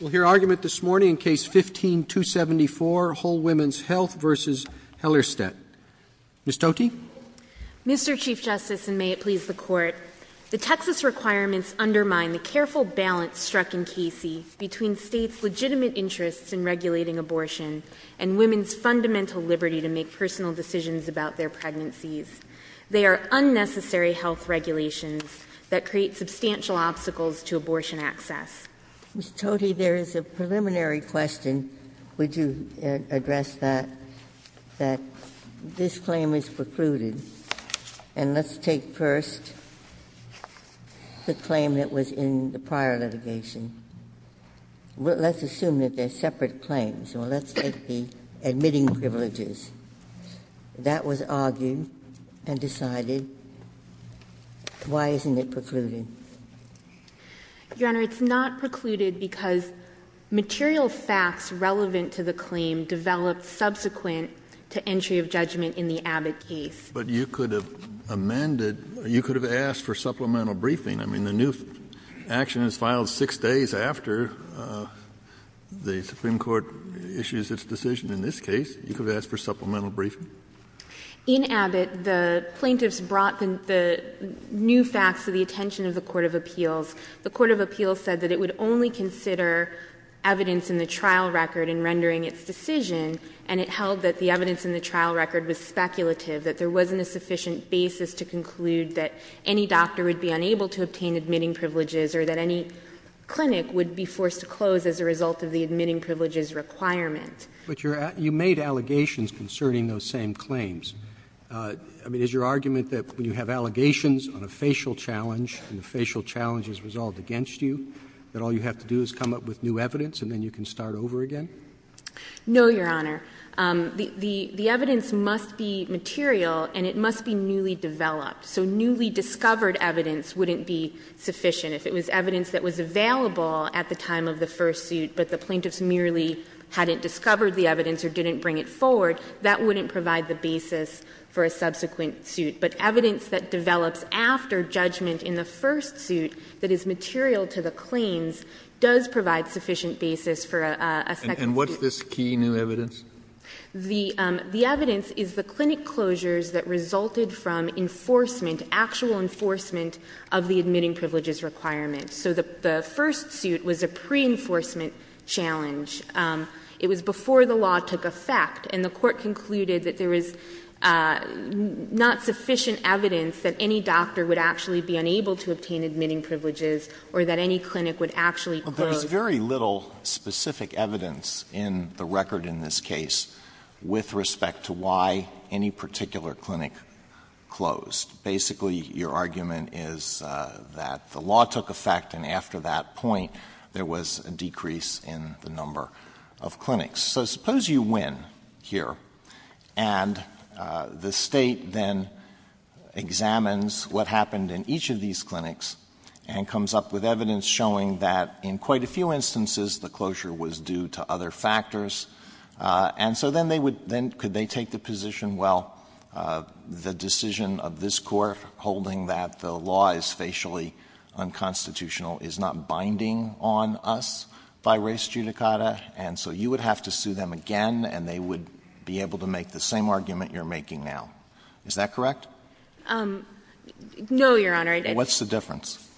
We'll hear argument this morning in Case 15-274, Whole Woman's Health v. Hellerstedt. Ms. Tocchi? Mr. Chief Justice, and may it please the Court, the Texas requirements undermine the careful balance struck in Casey between states' legitimate interests in regulating abortion and women's fundamental liberty to make personal decisions about their pregnancies. They are unnecessary health regulations that create substantial obstacles to abortion access. Ms. Tocchi, there is a preliminary question. Would you address that, that this claim is precluded? And let's take first the claim that was in the prior litigation. Let's assume that they're separate claims, or let's take the admitting privileges. That was argued and decided. Why isn't it precluded? Your Honor, it's not precluded because material facts relevant to the claim developed subsequent to entry of judgment in the Abbott case. But you could have amended, you could have asked for supplemental briefing. I mean, the new action is filed six days after the Supreme Court issues its decision in this case. You could have asked for supplemental briefing. In Abbott, the plaintiffs brought the new facts to the attention of the Court of Appeals. The Court of Appeals said that it would only consider evidence in the trial record in rendering its decision, and it held that the evidence in the trial record was speculative, that there wasn't a sufficient basis to conclude that any doctor would be unable to obtain admitting privileges or that any clinic would be forced to close as a result of the admitting privileges requirement. But you made allegations concerning those same claims. I mean, is your argument that when you have allegations on a facial challenge and the facial challenge is resolved against you, that all you have to do is come up with new evidence and then you can start over again? No, Your Honor. The evidence must be material, and it must be newly developed. So newly discovered evidence wouldn't be sufficient. If it was evidence that was available at the time of the first suit, but the plaintiffs merely hadn't discovered the evidence or didn't bring it forward, that wouldn't provide the basis for a subsequent suit. But evidence that develops after judgment in the first suit that is material to the claims does provide sufficient basis for a second suit. And what's this key new evidence? The evidence is the clinic closures that resulted from enforcement, actual enforcement of the admitting privileges requirement. So the first suit was a pre-enforcement challenge. It was before the law took effect, and the court concluded that there is not sufficient evidence that any doctor would actually be unable to obtain admitting privileges or that any clinic would actually close. But there's very little specific evidence in the record in this case with respect to why any particular clinic closed. Basically, your argument is that the law took effect, and after that point there was a decrease in the number of clinics. So suppose you win here, and the state then examines what happened in each of these clinics and comes up with evidence showing that in quite a few instances the closure was due to other factors. And so then could they take the position, well, the decision of this court holding that the law is facially unconstitutional is not binding on us by res judicata, and so you would have to sue them again and they would be able to make the same argument you're making now. Is that correct? No, Your Honor. What's the difference?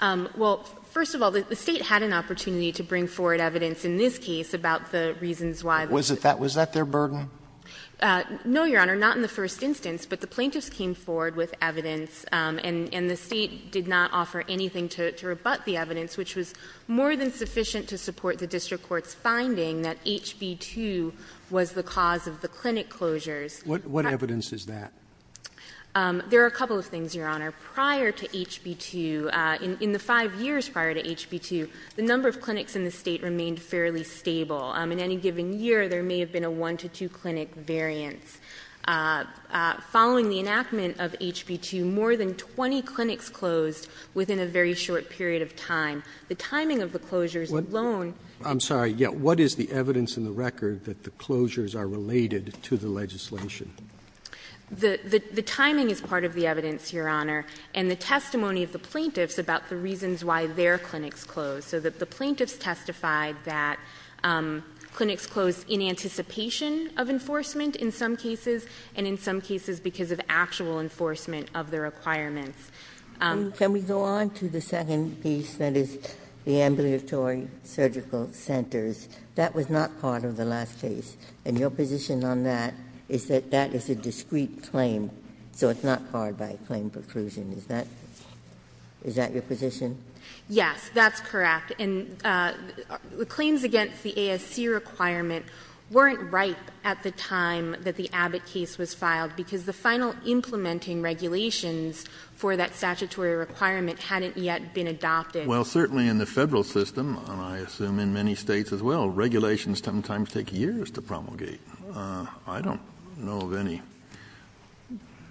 Well, first of all, the state had an opportunity to bring forward evidence in this case about the reasons why. Was that their burden? No, Your Honor, not in the first instance. But the plaintiffs came forward with evidence, and the state did not offer anything to rebut the evidence, which was more than sufficient to support the district court's finding that HB 2 was the cause of the clinic closures. What evidence is that? There are a couple of things, Your Honor. Prior to HB 2, in the five years prior to HB 2, the number of clinics in the state remained fairly stable. In any given year, there may have been a one to two clinic variance. Following the enactment of HB 2, more than 20 clinics closed within a very short period of time. The timing of the closures alone... I'm sorry. What is the evidence in the record that the closures are related to the legislation? The timing is part of the evidence, Your Honor, and the testimony of the plaintiffs about the reasons why their clinics closed, so that the plaintiffs testified that clinics closed in anticipation of enforcement in some cases, and in some cases because of actual enforcement of the requirements. Can we go on to the second piece, that is the ambulatory surgical centers? That was not part of the last case, and your position on that is that that is a discrete claim, so it's not part of a claim for percusion. Is that your position? Yes, that's correct, and the claims against the ASC requirement weren't ripe at the time that the Abbott case was filed because the final implementing regulations for that statutory requirement hadn't yet been adopted. Well, certainly in the federal system, and I assume in many states as well, regulations sometimes take years to promulgate. I don't know of any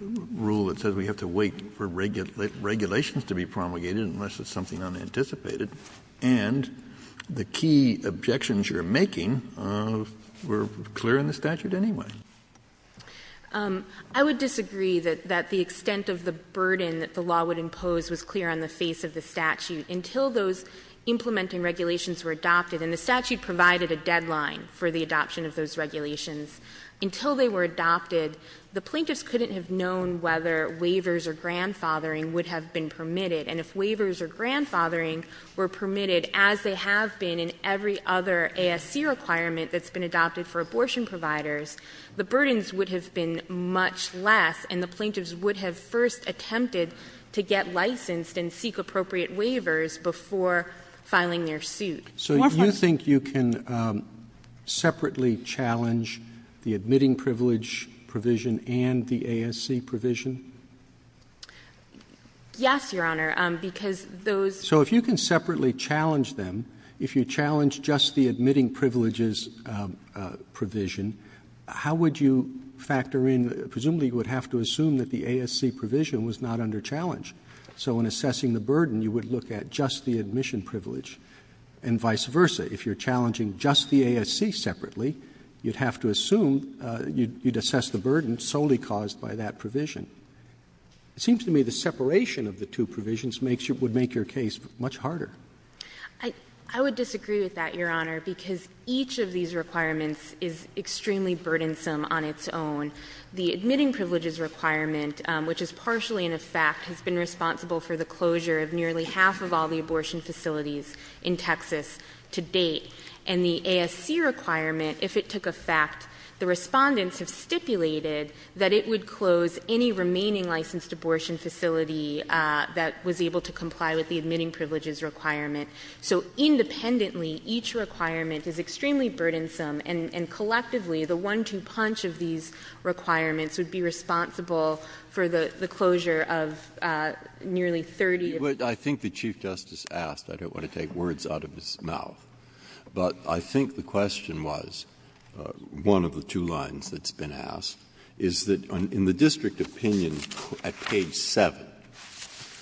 rule that says we have to wait for regulations to be promulgated unless it's something unanticipated, and the key objections you're making were clear in the statute anyway. I would disagree that the extent of the burden that the law would impose was clear on the face of the statute. Until those implementing regulations were adopted, and the statute provided a deadline for the adoption of those regulations, until they were adopted, the plaintiffs couldn't have known whether waivers or grandfathering would have been permitted, and if waivers or grandfathering were permitted, as they have been in every other ASC requirement that's been adopted for abortion providers, the burdens would have been much less, and the plaintiffs would have first attempted to get licensed and seek appropriate waivers before filing their suit. So you think you can separately challenge the admitting privilege provision and the ASC provision? Yes, Your Honor, because those- So if you can separately challenge them, if you challenge just the admitting privileges provision, how would you factor in-presumably you would have to assume that the ASC provision was not under challenge, so in assessing the burden you would look at just the admission privilege, and vice versa. If you're challenging just the ASC separately, you'd have to assume-you'd assess the burden solely caused by that provision. It seems to me the separation of the two provisions would make your case much harder. I would disagree with that, Your Honor, because each of these requirements is extremely burdensome on its own. The admitting privileges requirement, which is partially in effect, has been responsible for the closure of nearly half of all the abortion facilities in Texas to date, and the ASC requirement, if it took effect, the respondents have stipulated that it would close any remaining licensed abortion facility that was able to comply with the admitting privileges requirement. So independently, each requirement is extremely burdensome, and collectively the one-two punch of these requirements would be responsible for the closure of nearly 30- I think the Chief Justice asked-I don't want to take words out of his mouth, but I think the question was-one of the two lines that's been asked- is that in the district opinion at page 7,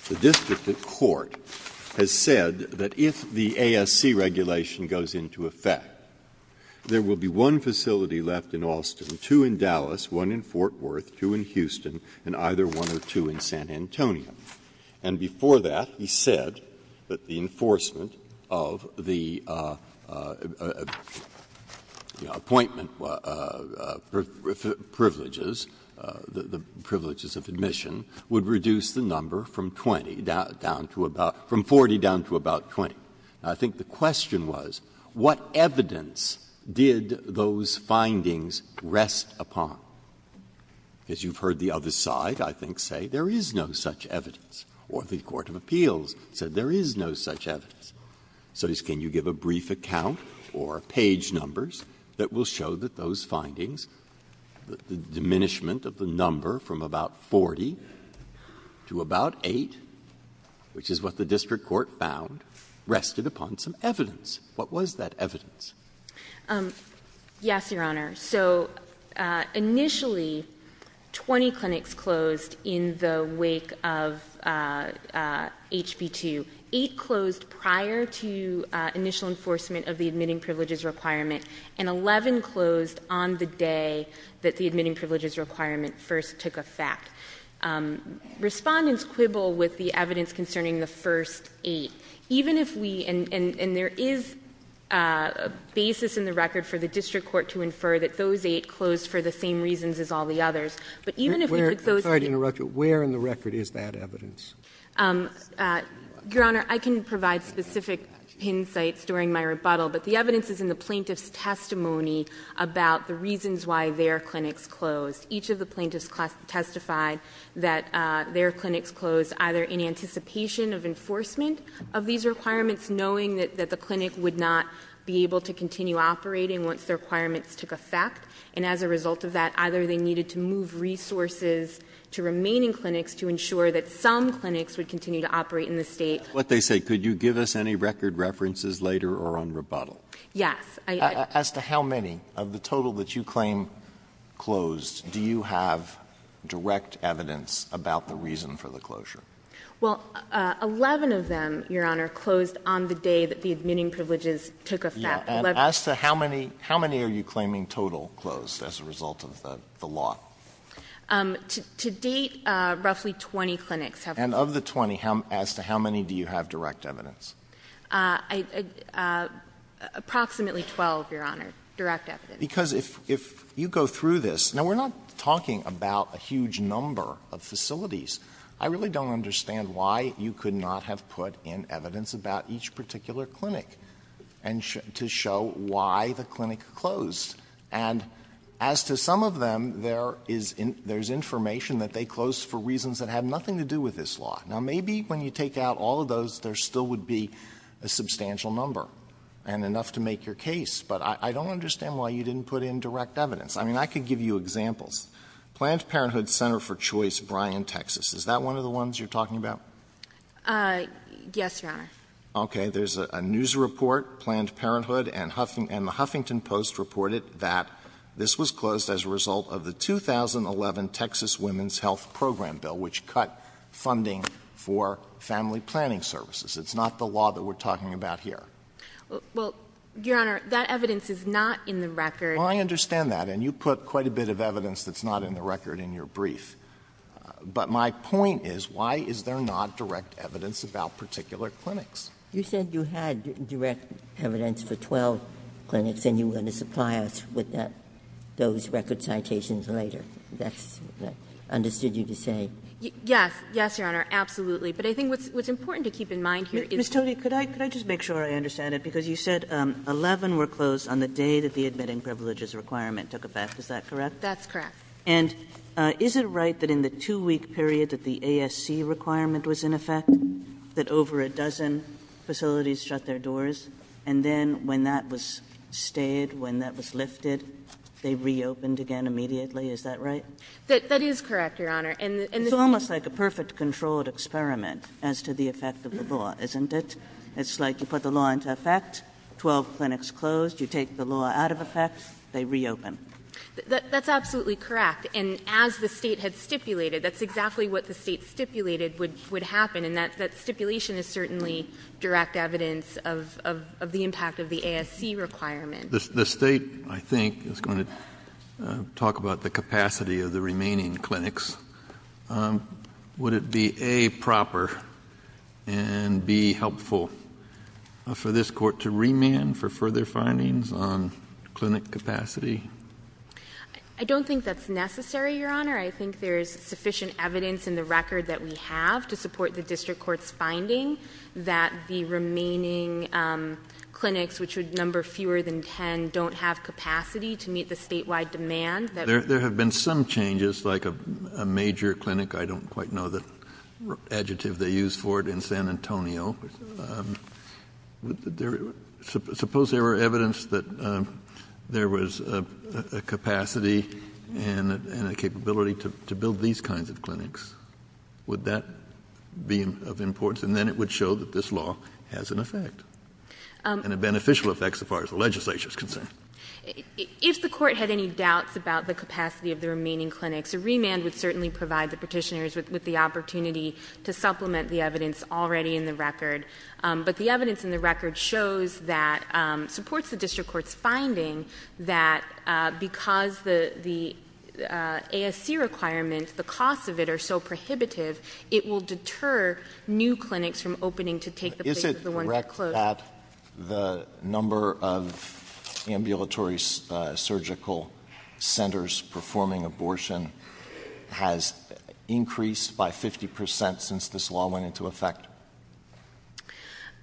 the district court has said that if the ASC regulation goes into effect, there will be one facility left in Austin, two in Dallas, one in Fort Worth, two in Houston, and either one or two in San Antonio. And before that, he said that the enforcement of the appointment privileges, the privileges of admission, would reduce the number from 40 down to about 20. I think the question was, what evidence did those findings rest upon? As you've heard the other side, I think, say, there is no such evidence. Or the Court of Appeals said there is no such evidence. So can you give a brief account or page numbers that will show that those findings, the diminishment of the number from about 40 to about 8, which is what the district court found, rested upon some evidence. What was that evidence? Yes, Your Honor. So initially, 20 clinics closed in the wake of HB2. Eight closed prior to initial enforcement of the admitting privileges requirement, and 11 closed on the day that the admitting privileges requirement first took effect. Respondents quibble with the evidence concerning the first eight. And there is a basis in the record for the district court to infer that those eight closed for the same reasons as all the others. I'm sorry to interrupt you, but where in the record is that evidence? Your Honor, I can provide specific insights during my rebuttal, but the evidence is in the plaintiff's testimony about the reasons why their clinics closed. Each of the plaintiffs testified that their clinics closed either in anticipation of enforcement of these requirements, knowing that the clinic would not be able to continue operating once the requirements took effect, and as a result of that, either they needed to move resources to remaining clinics to ensure that some clinics would continue to operate in the state. What they say, could you give us any record references later or on rebuttal? Yes. As to how many of the total that you claim closed, do you have direct evidence about the reason for the closure? Well, 11 of them, Your Honor, closed on the day that the admitting privileges took effect. And as to how many are you claiming total closed as a result of the law? To date, roughly 20 clinics have closed. And of the 20, as to how many do you have direct evidence? Approximately 12, Your Honor, direct evidence. Because if you go through this, now we're not talking about a huge number of facilities. I really don't understand why you could not have put in evidence about each particular clinic to show why the clinic closed. And as to some of them, there's information that they closed for reasons that had nothing to do with this law. Now maybe when you take out all of those, there still would be a substantial number and enough to make your case, but I don't understand why you didn't put in direct evidence. I mean, I could give you examples. Planned Parenthood Center for Choice, Bryan, Texas. Is that one of the ones you're talking about? Yes, Your Honor. Okay, there's a news report. Planned Parenthood and the Huffington Post reported that this was closed as a result of the 2011 Texas Women's Health Program Bill, which cut funding for family planning services. It's not the law that we're talking about here. Well, Your Honor, that evidence is not in the record. Well, I understand that, and you put quite a bit of evidence that's not in the record in your brief. But my point is, why is there not direct evidence about particular clinics? You said you had direct evidence for 12 clinics, and you were going to supply us with those record citations later. Is that what I understood you to say? Yes, Your Honor, absolutely. But I think what's important to keep in mind here is... Ms. Tovey, could I just make sure I understand it? Because you said 11 were closed on the day that the admitting privileges requirement took effect. Is that correct? That's correct. And is it right that in the two-week period that the ASC requirement was in effect, that over a dozen facilities shut their doors, and then when that was stayed, when that was lifted, they reopened again immediately? Is that right? That is correct, Your Honor. It's almost like a perfect controlled experiment as to the effect of the law, isn't it? It's like you put the law into effect, 12 clinics closed, you take the law out of effect, they reopen. That's absolutely correct. And as the State had stipulated, that's exactly what the State stipulated would happen, and that stipulation is certainly direct evidence of the impact of the ASC requirement. The State, I think, is going to talk about the capacity of the remaining clinics. Would it be, A, proper and, B, helpful for this Court to remand for further findings on clinic capacity? I don't think that's necessary, Your Honor. I think there's sufficient evidence in the record that we have to support the District Court's finding that the remaining clinics, which would number fewer than 10, don't have capacity to meet the statewide demand. There have been some changes, like a major clinic. I don't quite know the adjective they used for it in San Antonio. Suppose there were evidence that there was a capacity and a capability to build these kinds of clinics. Would that be of importance? And then it would show that this law has an effect, and a beneficial effect as far as the legislature is concerned. If the Court had any doubts about the capacity of the remaining clinics, a remand would certainly provide the petitioners with the opportunity to supplement the evidence already in the record. But the evidence in the record shows that it supports the District Court's finding that because the ASC requirements, the costs of it, are so prohibitive, it will deter new clinics from opening to take the place of the ones that closed. The number of ambulatory surgical centers performing abortion has increased by 50% since this law went into effect.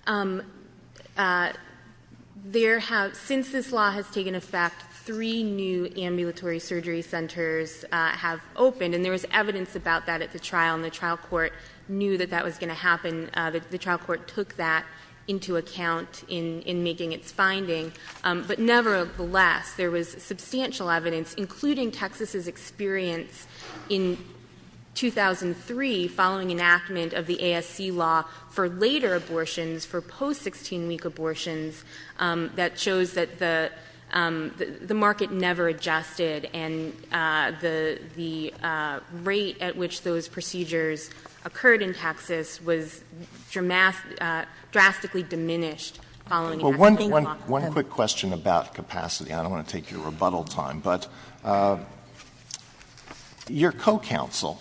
Since this law has taken effect, three new ambulatory surgery centers have opened, and there was evidence about that at the trial, and the trial court knew that that was going to happen. The trial court took that into account in making its finding. But nevertheless, there was substantial evidence, including Texas' experience in 2003, following enactment of the ASC law for later abortions, for post-16-week abortions, that shows that the market never adjusted, and the rate at which those procedures occurred in Texas was drastically diminished following enactment of the law. One quick question about capacity. I don't want to take your rebuttal time, but your co-counsel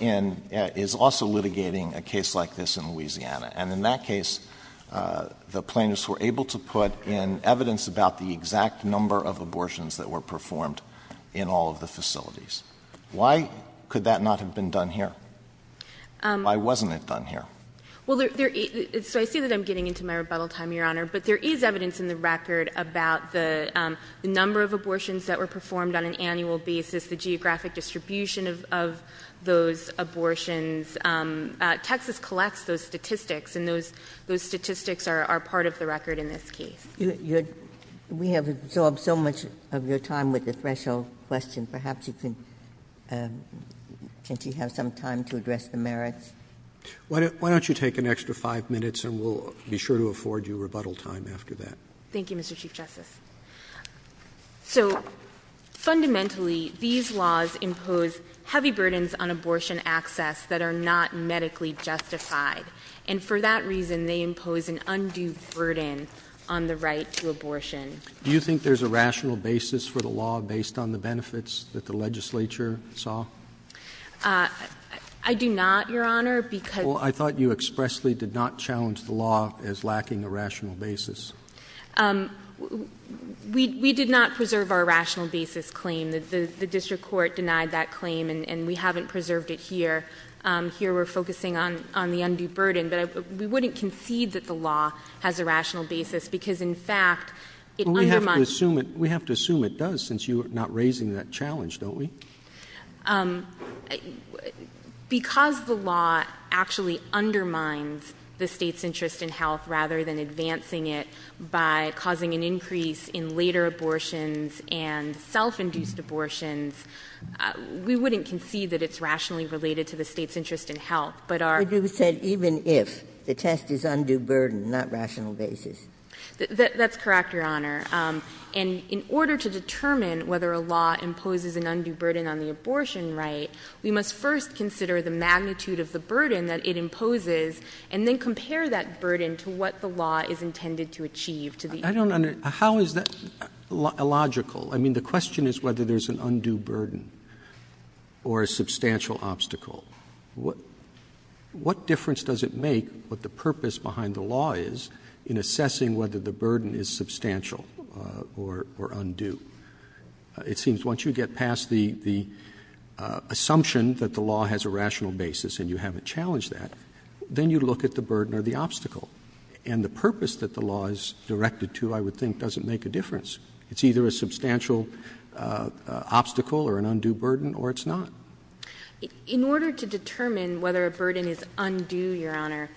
is also litigating a case like this in Louisiana, and in that case, the plaintiffs were able to put in evidence about the exact number of abortions that were performed in all of the facilities. Why could that not have been done here? Why wasn't it done here? Well, so I see that I'm getting into my rebuttal time, Your Honor, but there is evidence in the record about the number of abortions that were performed on an annual basis, the geographic distribution of those abortions. Texas collects those statistics, and those statistics are part of the record in this case. We have absorbed so much of your time with the threshold question. Perhaps you can have some time to address the merits. Why don't you take an extra five minutes, and we'll be sure to afford you rebuttal time after that. Thank you, Mr. Chief Justice. So fundamentally, these laws impose heavy burdens on abortion access that are not medically justified, and for that reason, they impose an undue burden on the right to abortion. Do you think there's a rational basis for the law based on the benefits that the legislature saw? I do not, Your Honor, because— Well, I thought you expressly did not challenge the law as lacking a rational basis. We did not preserve our rational basis claim. The district court denied that claim, and we haven't preserved it here. Here we're focusing on the undue burden. We wouldn't concede that the law has a rational basis because, in fact, it undermines— We have to assume it does since you're not raising that challenge, don't we? Because the law actually undermines the state's interest in health rather than advancing it by causing an increase in later abortions and self-induced abortions, we wouldn't concede that it's rationally related to the state's interest in health, but our— But you said even if. The test is undue burden, not rational basis. That's correct, Your Honor. And in order to determine whether a law imposes an undue burden on the abortion right, we must first consider the magnitude of the burden that it imposes and then compare that burden to what the law is intended to achieve. I don't understand. How is that illogical? I mean, the question is whether there's an undue burden or a substantial obstacle. What difference does it make what the purpose behind the law is in assessing whether the burden is substantial or undue? It seems once you get past the assumption that the law has a rational basis and you haven't challenged that, then you look at the burden or the obstacle. And the purpose that the law is directed to, I would think, doesn't make a difference. It's either a substantial obstacle or an undue burden, or it's not. In order to determine whether a burden is undue, Your Honor,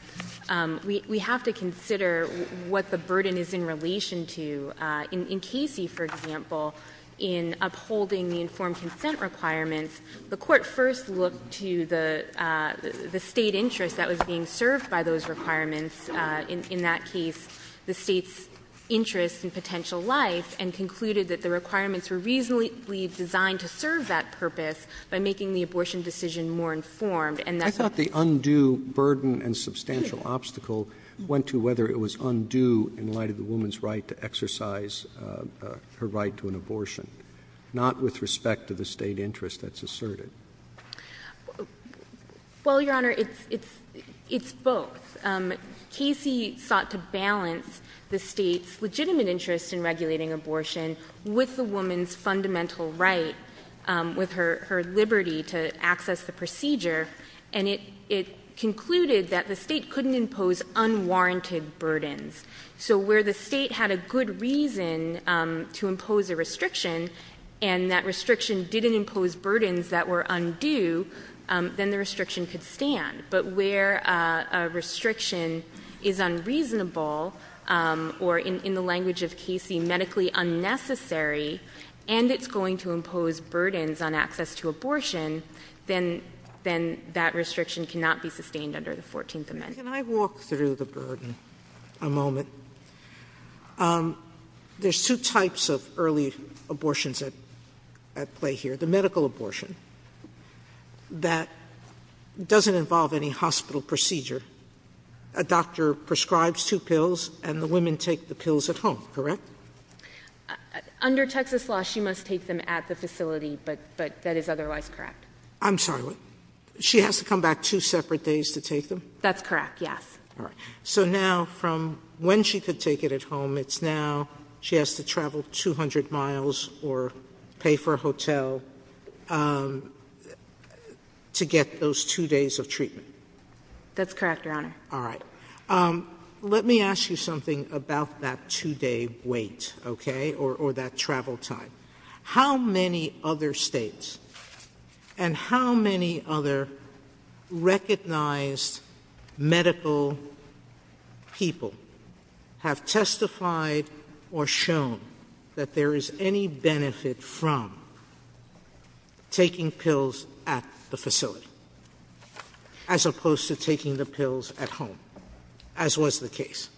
we have to consider what the burden is in relation to. In Casey, for example, in upholding the informed consent requirements, the Court first looked to the state interest that was being served by those requirements. In that case, the state's interest in potential life, and concluded that the requirements were reasonably designed to serve that purpose by making the abortion decision more informed. I thought the undue burden and substantial obstacle went to whether it was undue in light of the woman's right to exercise her right to an abortion, not with respect to the state interest that's asserted. Well, Your Honor, it's both. Casey sought to balance the state's legitimate interest in regulating abortion with the woman's fundamental right, with her liberty to access the procedure, and it concluded that the state couldn't impose unwarranted burdens. So where the state had a good reason to impose a restriction and that restriction didn't impose burdens that were undue, then the restriction could stand. But where a restriction is unreasonable, or in the language of Casey, medically unnecessary, and it's going to impose burdens on access to abortion, then that restriction cannot be sustained under the 14th Amendment. Can I walk through the burden a moment? There's two types of early abortions at play here. The medical abortion that doesn't involve any hospital procedure. A doctor prescribes two pills, and the women take the pills at home, correct? Under Texas law, she must take them at the facility, but that is otherwise correct. I'm sorry, what? She has to come back two separate days to take them? That's correct, yes. So now from when she could take it at home, it's now she has to travel 200 miles or pay for a hotel to get those two days of treatment? That's correct, Your Honor. All right. Let me ask you something about that two-day wait, okay, or that travel time. How many other states and how many other recognized medical people have testified or shown that there is any benefit from taking pills at the facility, as opposed to taking the pills at home, as was the case?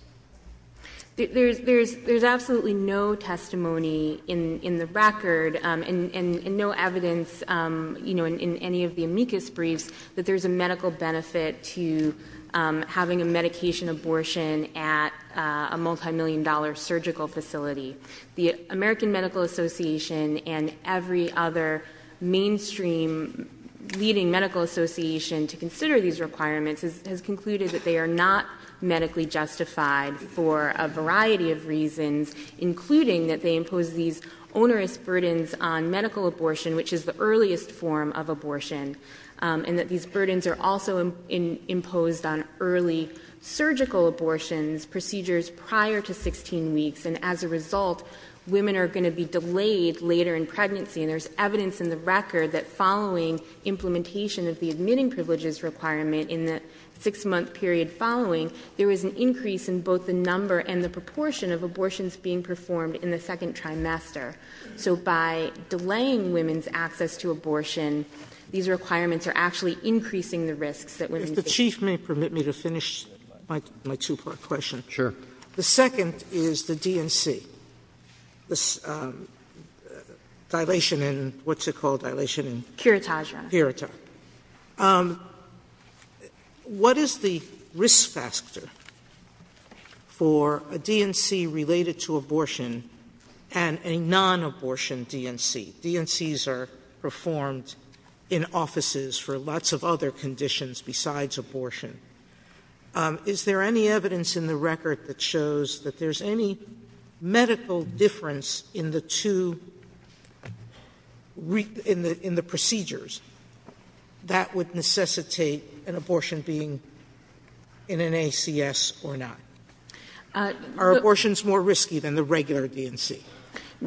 There's absolutely no testimony in the record and no evidence in any of the amicus briefs that there's a medical benefit to having a medication abortion at a multimillion-dollar surgical facility. The American Medical Association and every other mainstream leading medical association to consider these requirements has concluded that they are not medically justified for a variety of reasons, including that they impose these onerous burdens on medical abortion, which is the earliest form of abortion, and that these burdens are also imposed on early surgical abortions, procedures prior to 16 weeks, and as a result women are going to be delayed later in pregnancy. There's evidence in the record that following implementation of the admitting privileges requirement in the six-month period following, there was an increase in both the number and the proportion of abortions being performed in the second trimester. So by delaying women's access to abortion, these requirements are actually increasing the risks that women face. If the Chief may permit me to finish my two-part question. Sure. The second is the DNC, dilation and what's it called, dilation and... Kiritajra. Kiritajra. What is the risk factor for a DNC related to abortion and a non-abortion DNC? DNCs are performed in offices for lots of other conditions besides abortion. Is there any evidence in the record that shows that there's any medical difference in the procedures that would necessitate an abortion being in an ACS or not? Are abortions more risky than the regular DNC?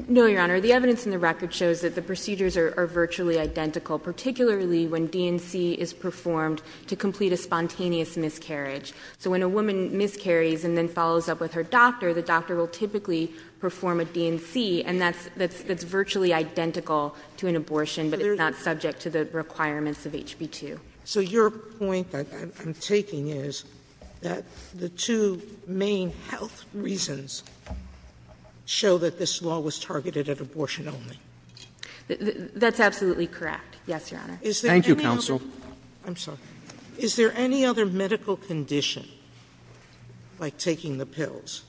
No, Your Honor. The evidence in the record shows that the procedures are virtually identical, particularly when DNC is performed to complete a spontaneous miscarriage. So when a woman miscarries and then follows up with her doctor, the doctor will typically perform a DNC, and that's virtually identical to an abortion that is not subject to the requirements of HB2. So your point that I'm taking is that the two main health reasons show that this law was targeted at abortion only. That's absolutely correct. Yes, Your Honor. Thank you, counsel. I'm sorry. Is there any other medical condition, like taking the pills,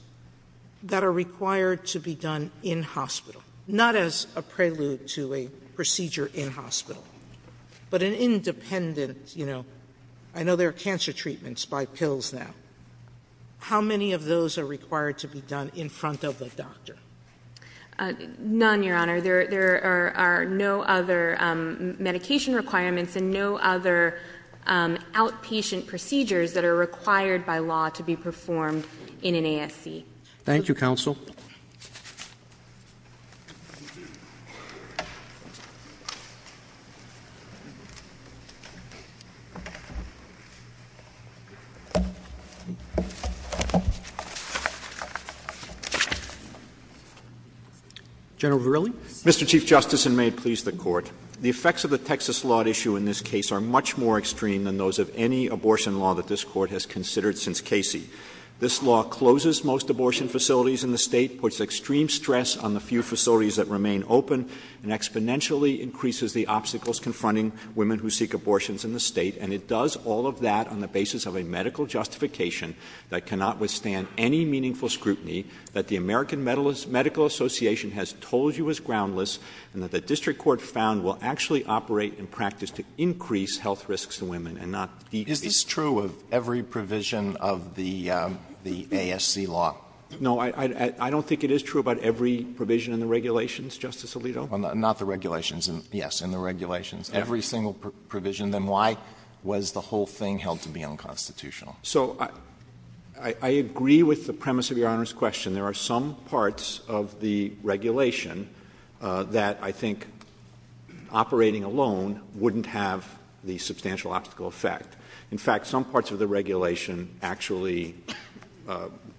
that are required to be done in hospital, not as a prelude to a procedure in hospital, but an independent, you know, I know there are cancer treatments by pills now. How many of those are required to be done in front of the doctor? None, Your Honor. There are no other medication requirements and no other outpatient procedures that are required by law to be performed in an ASC. Thank you, counsel. General Verrilli? Mr. Chief Justice, and may it please the Court, the effects of the Texas law issue in this case are much more extreme than those of any abortion law that this Court has considered since Casey. This law closes most abortion facilities in the state, puts extreme stress on the few facilities that remain open, and exponentially increases the obstacles confronting women who seek abortions in the state, and it does all of that on the basis of a medical justification that cannot withstand any meaningful scrutiny, that the American Medical Association has told you is groundless, and that the district court found will actually operate in practice to increase health risks to women and not decrease. Is this true of every provision of the ASC law? No. I don't think it is true about every provision in the regulations, Justice Alito. Not the regulations. Yes, in the regulations. Every single provision. Then why was the whole thing held to be unconstitutional? So I agree with the premise of Your Honor's question. There are some parts of the regulation that I think operating alone wouldn't have the substantial obstacle effect. In fact, some parts of the regulation actually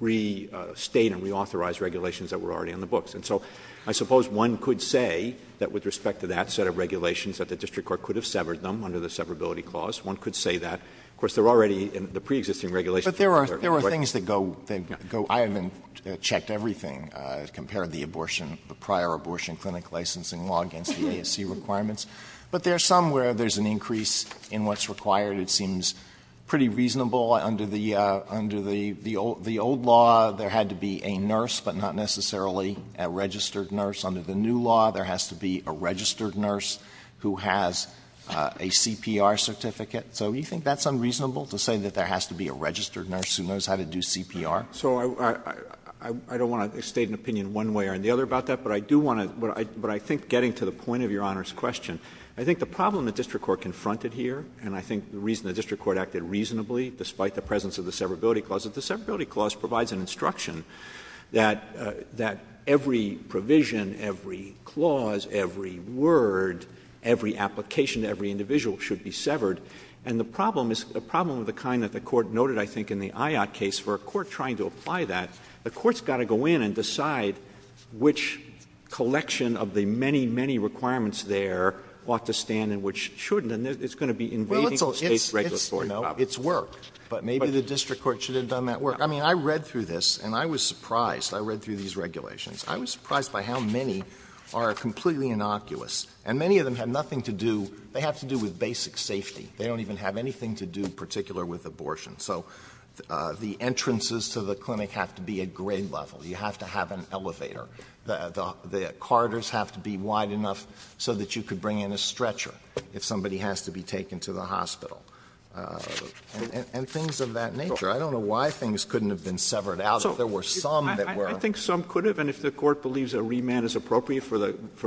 restate and reauthorize regulations that were already in the books. And so I suppose one could say that with respect to that set of regulations that the district court could have severed them under the severability clause. One could say that. Of course, they're already in the preexisting regulations. But there are things that go, I haven't checked everything as compared to the prior abortion clinic licensing law against the ASC requirements, but there are some where there's an increase in what's required. It seems pretty reasonable. Under the old law, there had to be a nurse, but not necessarily a registered nurse. Under the new law, there has to be a registered nurse who has a CPR certificate. So you think that's unreasonable to say that there has to be a registered nurse who knows how to do CPR? So I don't want to state an opinion one way or the other about that, but I think getting to the point of Your Honor's question, I think the problem the district court confronted here, and I think the reason the district court acted reasonably, despite the presence of the severability clause, is the severability clause provides an instruction that every provision, every clause, every word, every application to every individual should be severed. And the problem is a problem of the kind that the court noted, I think, in the IOT case where a court trying to apply that, the court's got to go in and decide which collection of the many, many requirements there ought to stand and which shouldn't, and it's going to be invading the state's regulatory power. Well, let's hope it's worked. But maybe the district court should have done that work. I mean, I read through this, and I was surprised. I read through these regulations. I was surprised by how many are completely innocuous, and many of them have nothing to do, they have to do with basic safety. They don't even have anything to do in particular with abortion. So the entrances to the clinic have to be at grade level. You have to have an elevator. The corridors have to be wide enough so that you could bring in a stretcher if somebody has to be taken to the hospital, and things of that nature. I don't know why things couldn't have been severed out if there were some that were. I think some could have, and if the court believes a remand is appropriate for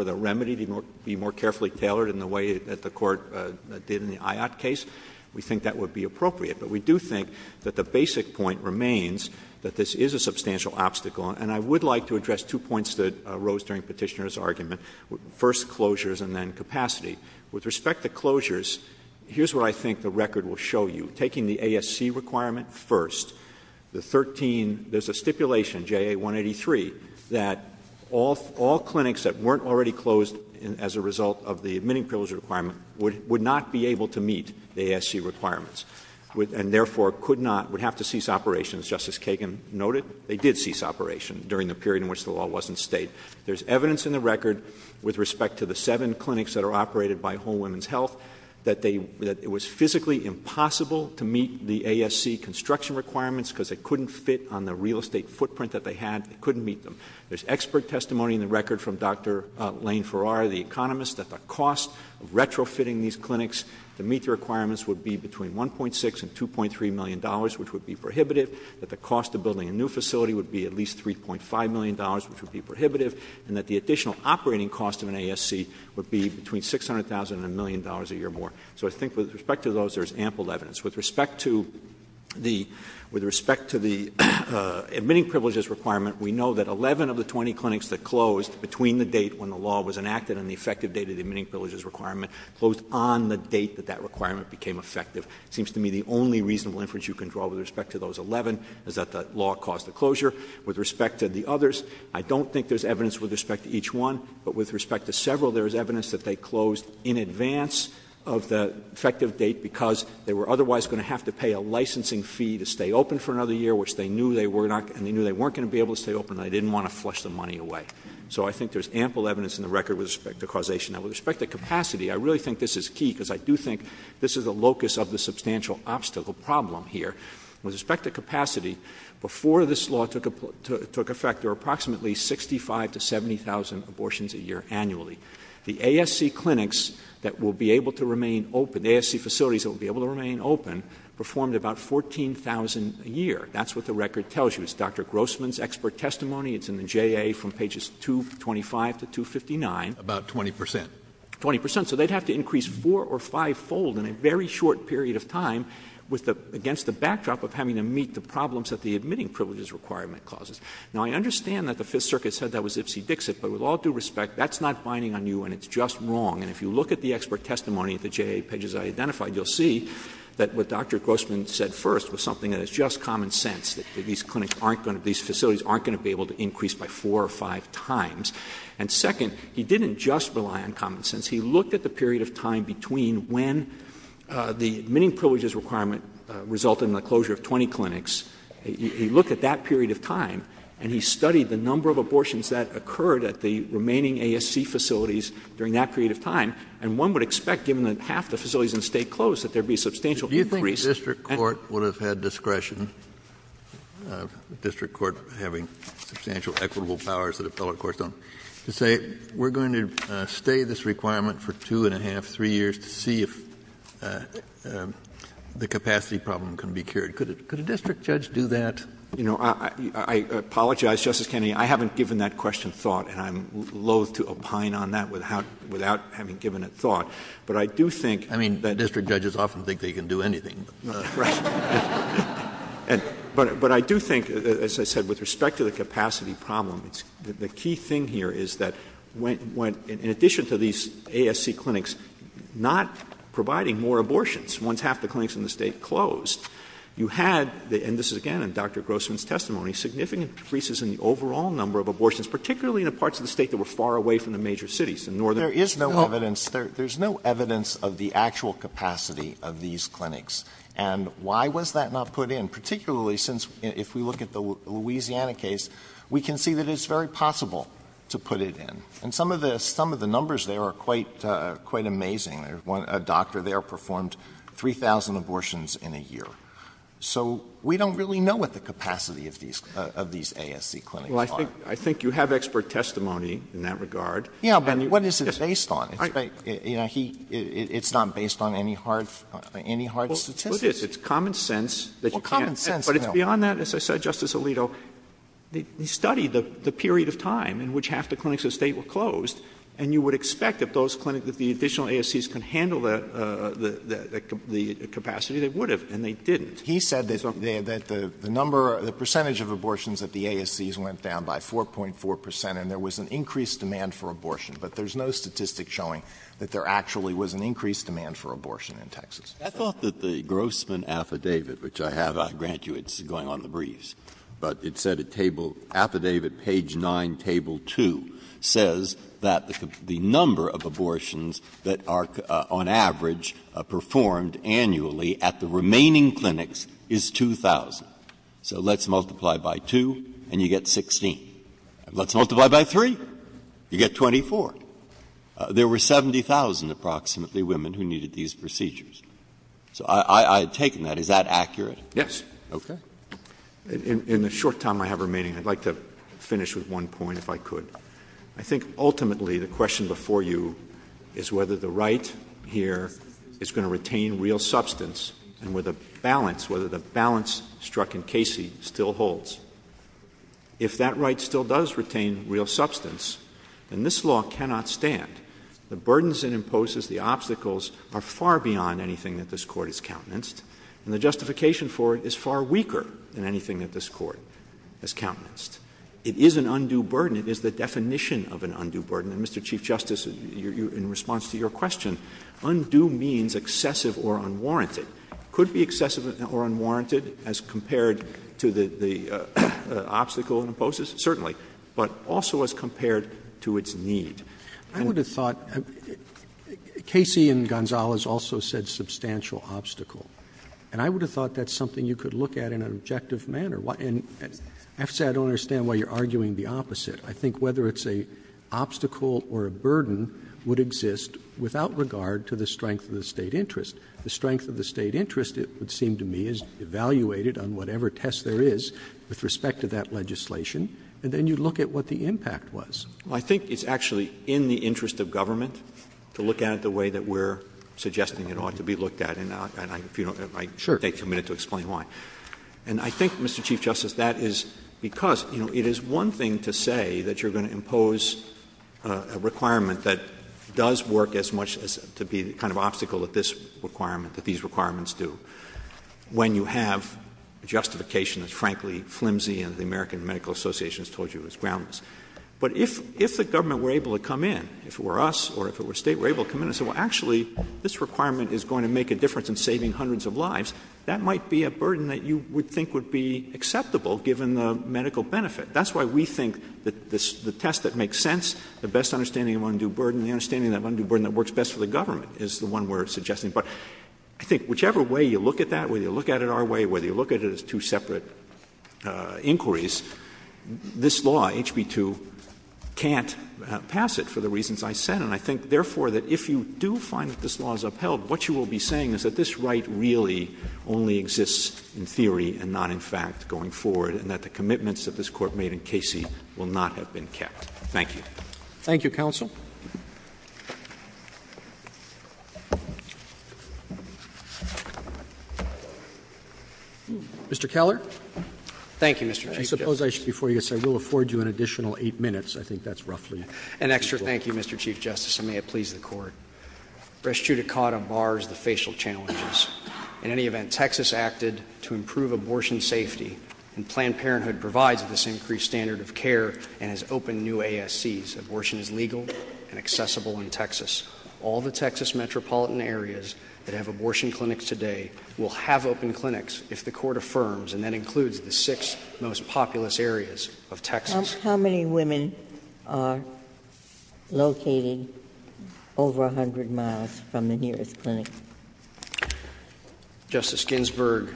the remedy to be more carefully tailored in the way that the court did in the IOT case, we think that would be appropriate. But we do think that the basic point remains that this is a substantial obstacle, and I would like to address two points that arose during Petitioner's argument, first closures and then capacity. With respect to closures, here's what I think the record will show you. Taking the ASC requirement first, the 13, there's a stipulation, JA 183, that all clinics that weren't already closed as a result of the admitting privilege requirement would not be able to meet the ASC requirements, and therefore could not, would have to cease operations, just as Kagan noted. They did cease operation during the period in which the law was in state. There's evidence in the record with respect to the seven clinics that are operated by Whole Women's Health that it was physically impossible to meet the ASC construction requirements because it couldn't fit on the real estate footprint that they had. It couldn't meet them. There's expert testimony in the record from Dr. Lane Farrar, the economist, that the cost of retrofitting these clinics to meet the requirements would be between $1.6 million and $2.3 million, which would be prohibited, that the cost of building a new facility would be at least $3.5 million, which would be prohibitive, and that the additional operating cost of an ASC would be between $600,000 and $1 million a year more. So I think with respect to those, there's ample evidence. With respect to the admitting privileges requirement, we know that 11 of the 20 clinics that closed between the date when the law was enacted and the effective date of the admitting privileges requirement closed on the date that that requirement became effective. It seems to me the only reasonable inference you can draw with respect to those 11 is that the law caused the closure. With respect to the others, I don't think there's evidence with respect to each one, but with respect to several, there's evidence that they closed in advance of the effective date because they were otherwise going to have to pay a licensing fee to stay open for another year, which they knew they weren't going to be able to stay open, and they didn't want to flush the money away. So I think there's ample evidence in the record with respect to causation. Now, with respect to capacity, I really think this is key because I do think this is the locus of the substantial obstacle problem here. With respect to capacity, before this law took effect, there were approximately 65,000 to 70,000 abortions a year annually. The ASC clinics that will be able to remain open, the ASC facilities that will be able to remain open, performed about 14,000 a year. That's what the record tells you. It's Dr. Grossman's expert testimony. It's in the J.A. from pages 225 to 259. About 20 percent. 20 percent. So they'd have to increase four- or five-fold in a very short period of time against the backdrop of having to meet the problems that the admitting privileges requirement causes. Now, I understand that the Fifth Circuit said that was ipsy-dixit, but with all due respect, that's not binding on you, and it's just wrong. And if you look at the expert testimony at the J.A. pages I identified, you'll see that what Dr. Grossman said first was something that is just common sense, that these facilities aren't going to be able to increase by four or five times. And second, he didn't just rely on common sense. He looked at the period of time between when the admitting privileges requirement resulted in the closure of 20 clinics. He looked at that period of time, and he studied the number of abortions that occurred at the remaining ASC facilities during that period of time, and one would expect, given that half the facilities in the state closed, that there'd be substantial increase. The district court would have had discretion, the district court having substantial equitable powers that appellate courts don't, to say we're going to stay this requirement for two and a half, three years, to see if the capacity problem can be cured. Could a district judge do that? You know, I apologize, Justice Kennedy. I haven't given that question thought, and I'm loathe to opine on that without having given it thought. I mean, district judges often think they can do anything. Right. But I do think, as I said, with respect to the capacity problem, the key thing here is that in addition to these ASC clinics not providing more abortions once half the clinics in the state closed, you had, and this is again in Dr. Grossman's testimony, significant increases in the overall number of abortions, particularly in the parts of the state that were far away from the major cities. There is no evidence of the actual capacity of these clinics. And why was that not put in? Particularly since if we look at the Louisiana case, we can see that it's very possible to put it in. And some of the numbers there are quite amazing. A doctor there performed 3,000 abortions in a year. So we don't really know what the capacity of these ASC clinics are. Well, I think you have expert testimony in that regard. Yeah, but what is it based on? It's not based on any hard statistics. Well, it is. It's common sense. Well, common sense, no. But it's beyond that, as I said, Justice Alito. He studied the period of time in which half the clinics in the state were closed, and you would expect that those clinics, that the additional ASCs can handle the capacity. They would have, and they didn't. He said that the number, the percentage of abortions at the ASCs went down by 4.4 percent, and there was an increased demand for abortion. But there's no statistic showing that there actually was an increased demand for abortion in Texas. I thought that the Grossman affidavit, which I have, I grant you it's going on the breeze, but it said at table, affidavit, page 9, table 2, says that the number of abortions that are on average performed annually at the remaining clinics is 2,000. So let's multiply by 2, and you get 16. Let's multiply by 3, you get 24. There were 70,000, approximately, women who needed these procedures. So I take that. Is that accurate? Yes. Okay. In the short time I have remaining, I'd like to finish with one point, if I could. I think ultimately the question before you is whether the right here is going to retain real substance and with a balance, whether the balance struck in Casey still holds. If that right still does retain real substance, then this law cannot stand. The burdens it imposes, the obstacles, are far beyond anything that this Court has countenanced, and the justification for it is far weaker than anything that this Court has countenanced. It is an undue burden. It is the definition of an undue burden. And, Mr. Chief Justice, in response to your question, undue means excessive or unwarranted. Could be excessive or unwarranted as compared to the obstacle it imposes? Certainly, but also as compared to its need. I would have thought Casey and Gonzales also said substantial obstacle, and I would have thought that's something you could look at in an objective manner. Actually, I don't understand why you're arguing the opposite. I think whether it's an obstacle or a burden would exist without regard to the strength of the State interest. The strength of the State interest, it would seem to me, is evaluated on whatever test there is with respect to that legislation, and then you look at what the impact was. I think it's actually in the interest of government to look at it the way that we're suggesting it ought to be looked at, and I take two minutes to explain why. And I think, Mr. Chief Justice, that is because, you know, it is one thing to say that you're going to impose a requirement that does work as much as to be the kind of obstacle that this requirement, that these requirements do, when you have justification that's frankly flimsy and the American Medical Association has told you is groundless. But if the government were able to come in, if it were us or if it were State, were able to come in and say, well, actually, this requirement is going to make a difference in saving hundreds of lives, that might be a burden that you would think would be acceptable given the medical benefit. That's why we think that the test that makes sense, the best understanding of undue burden, the understanding of undue burden that works best for the government is the one we're suggesting. But I think whichever way you look at that, whether you look at it our way, whether you look at it as two separate inquiries, this law, HB 2, can't pass it for the reasons I said. And I think, therefore, that if you do find that this law is upheld, what you will be saying is that this right really only exists in theory and not, in fact, going forward, and that the commitments that this Court made in Casey will not have been kept. Thank you. Thank you, Counsel. Mr. Keller? Thank you, Mr. Chief Justice. I suppose I should before you say, we'll afford you an additional eight minutes. I think that's roughly. An extra thank you, Mr. Chief Justice, and may it please the Court. Restituted caught on bars, the facial channel is. In any event, Texas acted to improve abortion safety, and Planned Parenthood provides this increased standard of care and has opened new ASCs. Abortion is legal and accessible in Texas. All the Texas metropolitan areas that have abortion clinics today will have open clinics if the Court affirms, and that includes the six most populous areas of Texas. How many women are located over 100 miles from the nearest clinic? Justice Ginsburg,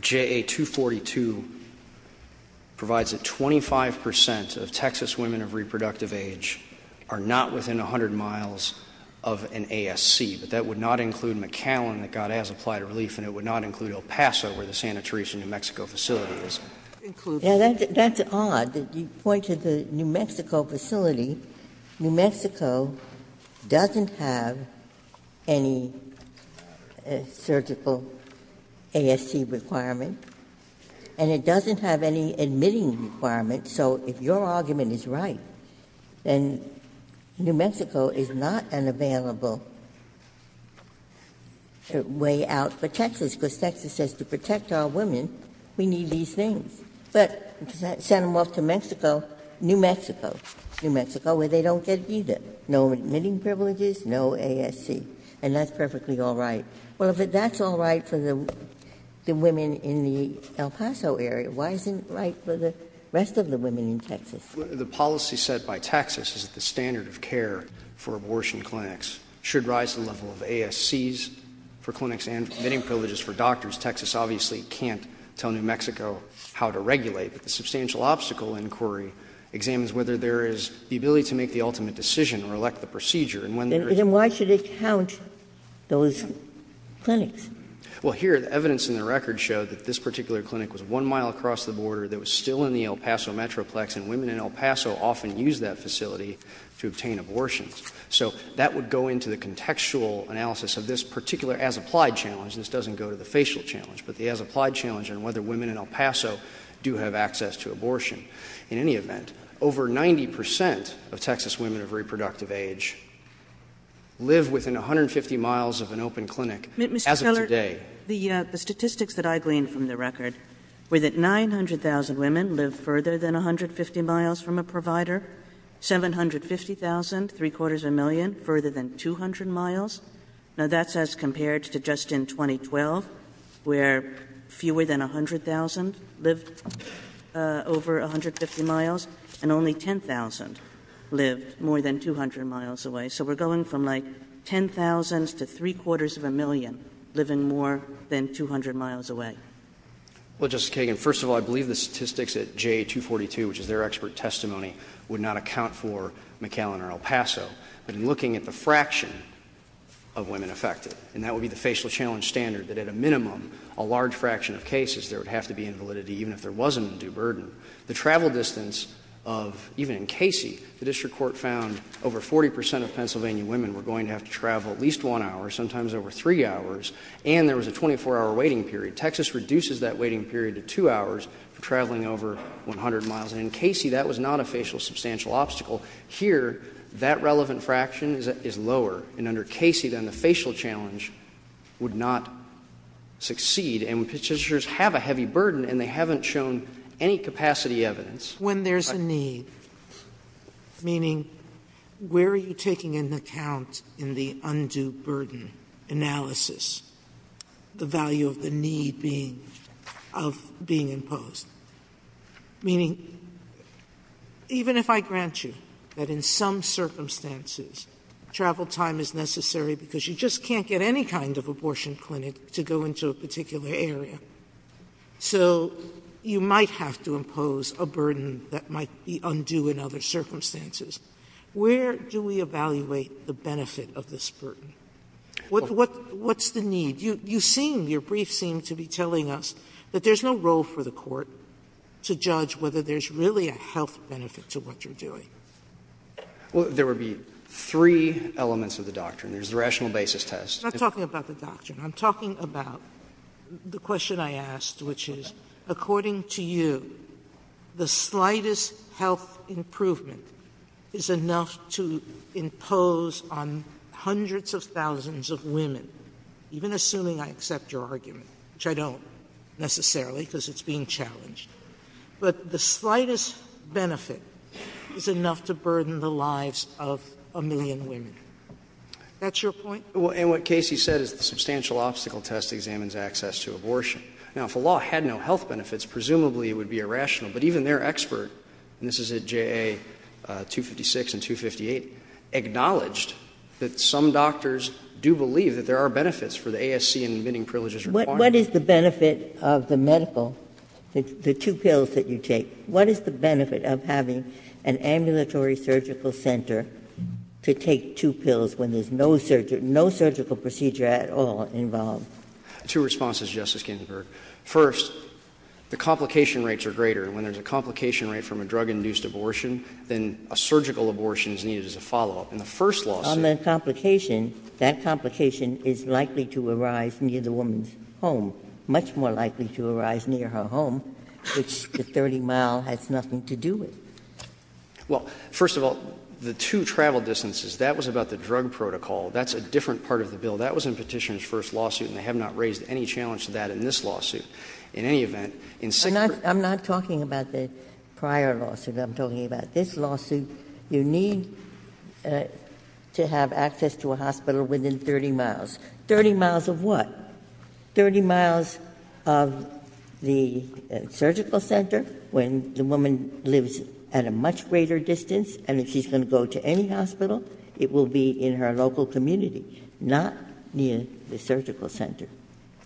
JA 242 provides that 25 percent of Texas women of reproductive age are not within 100 miles of an ASC, but that would not include McAllen, that God has applied a relief, and it would not include El Paso, where the Santa Teresa, New Mexico facility is. That's odd that you point to the New Mexico facility. New Mexico doesn't have any surgical ASC requirement, and it doesn't have any admitting requirement, so if your argument is right, then New Mexico is not an available way out for Texas, because Texas says to protect our women, we need these things. But send them off to Mexico, New Mexico, New Mexico, where they don't get it either. No admitting privileges, no ASC, and that's perfectly all right. Well, if that's all right for the women in the El Paso area, why isn't it right for the rest of the women in Texas? The policy set by Texas is that the standard of care for abortion clinics should rise to the level of ASCs for clinics and admitting privileges for doctors. Texas obviously can't tell New Mexico how to regulate. The substantial obstacle inquiry examines whether there is the ability to make the ultimate decision or elect the procedure. Then why should it challenge those clinics? Well, here, the evidence in the record shows that this particular clinic was one mile across the border that was still in the El Paso metroplex, and women in El Paso often use that facility to obtain abortions. So that would go into the contextual analysis of this particular as-applied challenge. This doesn't go to the facial challenge, but the as-applied challenge on whether women in El Paso do have access to abortion. In any event, over 90 percent of Texas women of reproductive age live within 150 miles of an open clinic as of today. Mr. Keller, the statistics that I gleaned from the record were that 900,000 women live further than 150 miles from a provider, 750,000, three-quarters of a million, further than 200 miles. Now, that's as compared to just in 2012, where fewer than 100,000 lived over 150 miles, and only 10,000 lived more than 200 miles away. So we're going from, like, 10,000 to three-quarters of a million living more than 200 miles away. Well, Justice Kagan, first of all, I believe the statistics at J242, which is their expert testimony, would not account for McAllen or El Paso. But in looking at the fraction of women affected, and that would be the facial challenge standard, that at a minimum, a large fraction of cases, there would have to be invalidity, even if there wasn't a due burden. The travel distance of, even in Casey, the district court found over 40 percent of Pennsylvania women were going to have to travel at least one hour, sometimes over three hours, and there was a 24-hour waiting period. Texas reduces that waiting period to two hours for traveling over 100 miles. And in Casey, that was not a facial substantial obstacle. Here, that relevant fraction is lower. And under Casey, then, the facial challenge would not succeed. And when considerers have a heavy burden and they haven't shown any capacity evidence... When there's a need, meaning, where are you taking into account in the undue burden analysis the value of the need being imposed? Meaning, even if I grant you that in some circumstances, travel time is necessary because you just can't get any kind of abortion clinic to go into a particular area, so you might have to impose a burden that might be undue in other circumstances. Where do we evaluate the benefit of this burden? What's the need? You seem, your brief seemed to be telling us that there's no role for the court to judge whether there's really a health benefit to what you're doing. Well, there would be three elements of the doctrine. There's the rational basis test... I'm not talking about the doctrine. I'm talking about the question I asked, which is, according to you, the slightest health improvement is enough to impose on hundreds of thousands of women, even assuming I accept your argument, which I don't, necessarily, because it's being challenged. But the slightest benefit is enough to burden the lives of a million women. That's your point? And what Casey said is the substantial obstacle test examines access to abortion. Now, if a law had no health benefits, presumably it would be irrational, but even their expert, and this is at JA 256 and 258, acknowledged that some doctors do believe that there are benefits for the ASC and admitting privileges requirement. What is the benefit of the medical, the two pills that you take, what is the benefit of having an ambulatory surgical center to take two pills when there's no surgical procedure at all involved? Two responses, Justice Ginsburg. First, the complication rates are greater. When there's a complication rate from a drug-induced abortion, then a surgical abortion is needed as a follow-up. On the complication, that complication is likely to arise near the woman's home, much more likely to arise near her home, which the 30-mile has nothing to do with. Well, first of all, the two travel distances, that was about the drug protocol. That's a different part of the bill. That was in Petitioner's first lawsuit, and they have not raised any challenge to that in this lawsuit. In any event... I'm not talking about the prior lawsuit. I'm talking about this lawsuit. You need to have access to a hospital within 30 miles. 30 miles of what? 30 miles of the surgical center when the woman lives at a much greater distance, and if she's going to go to any hospital, it will be in her local community, not near the surgical center.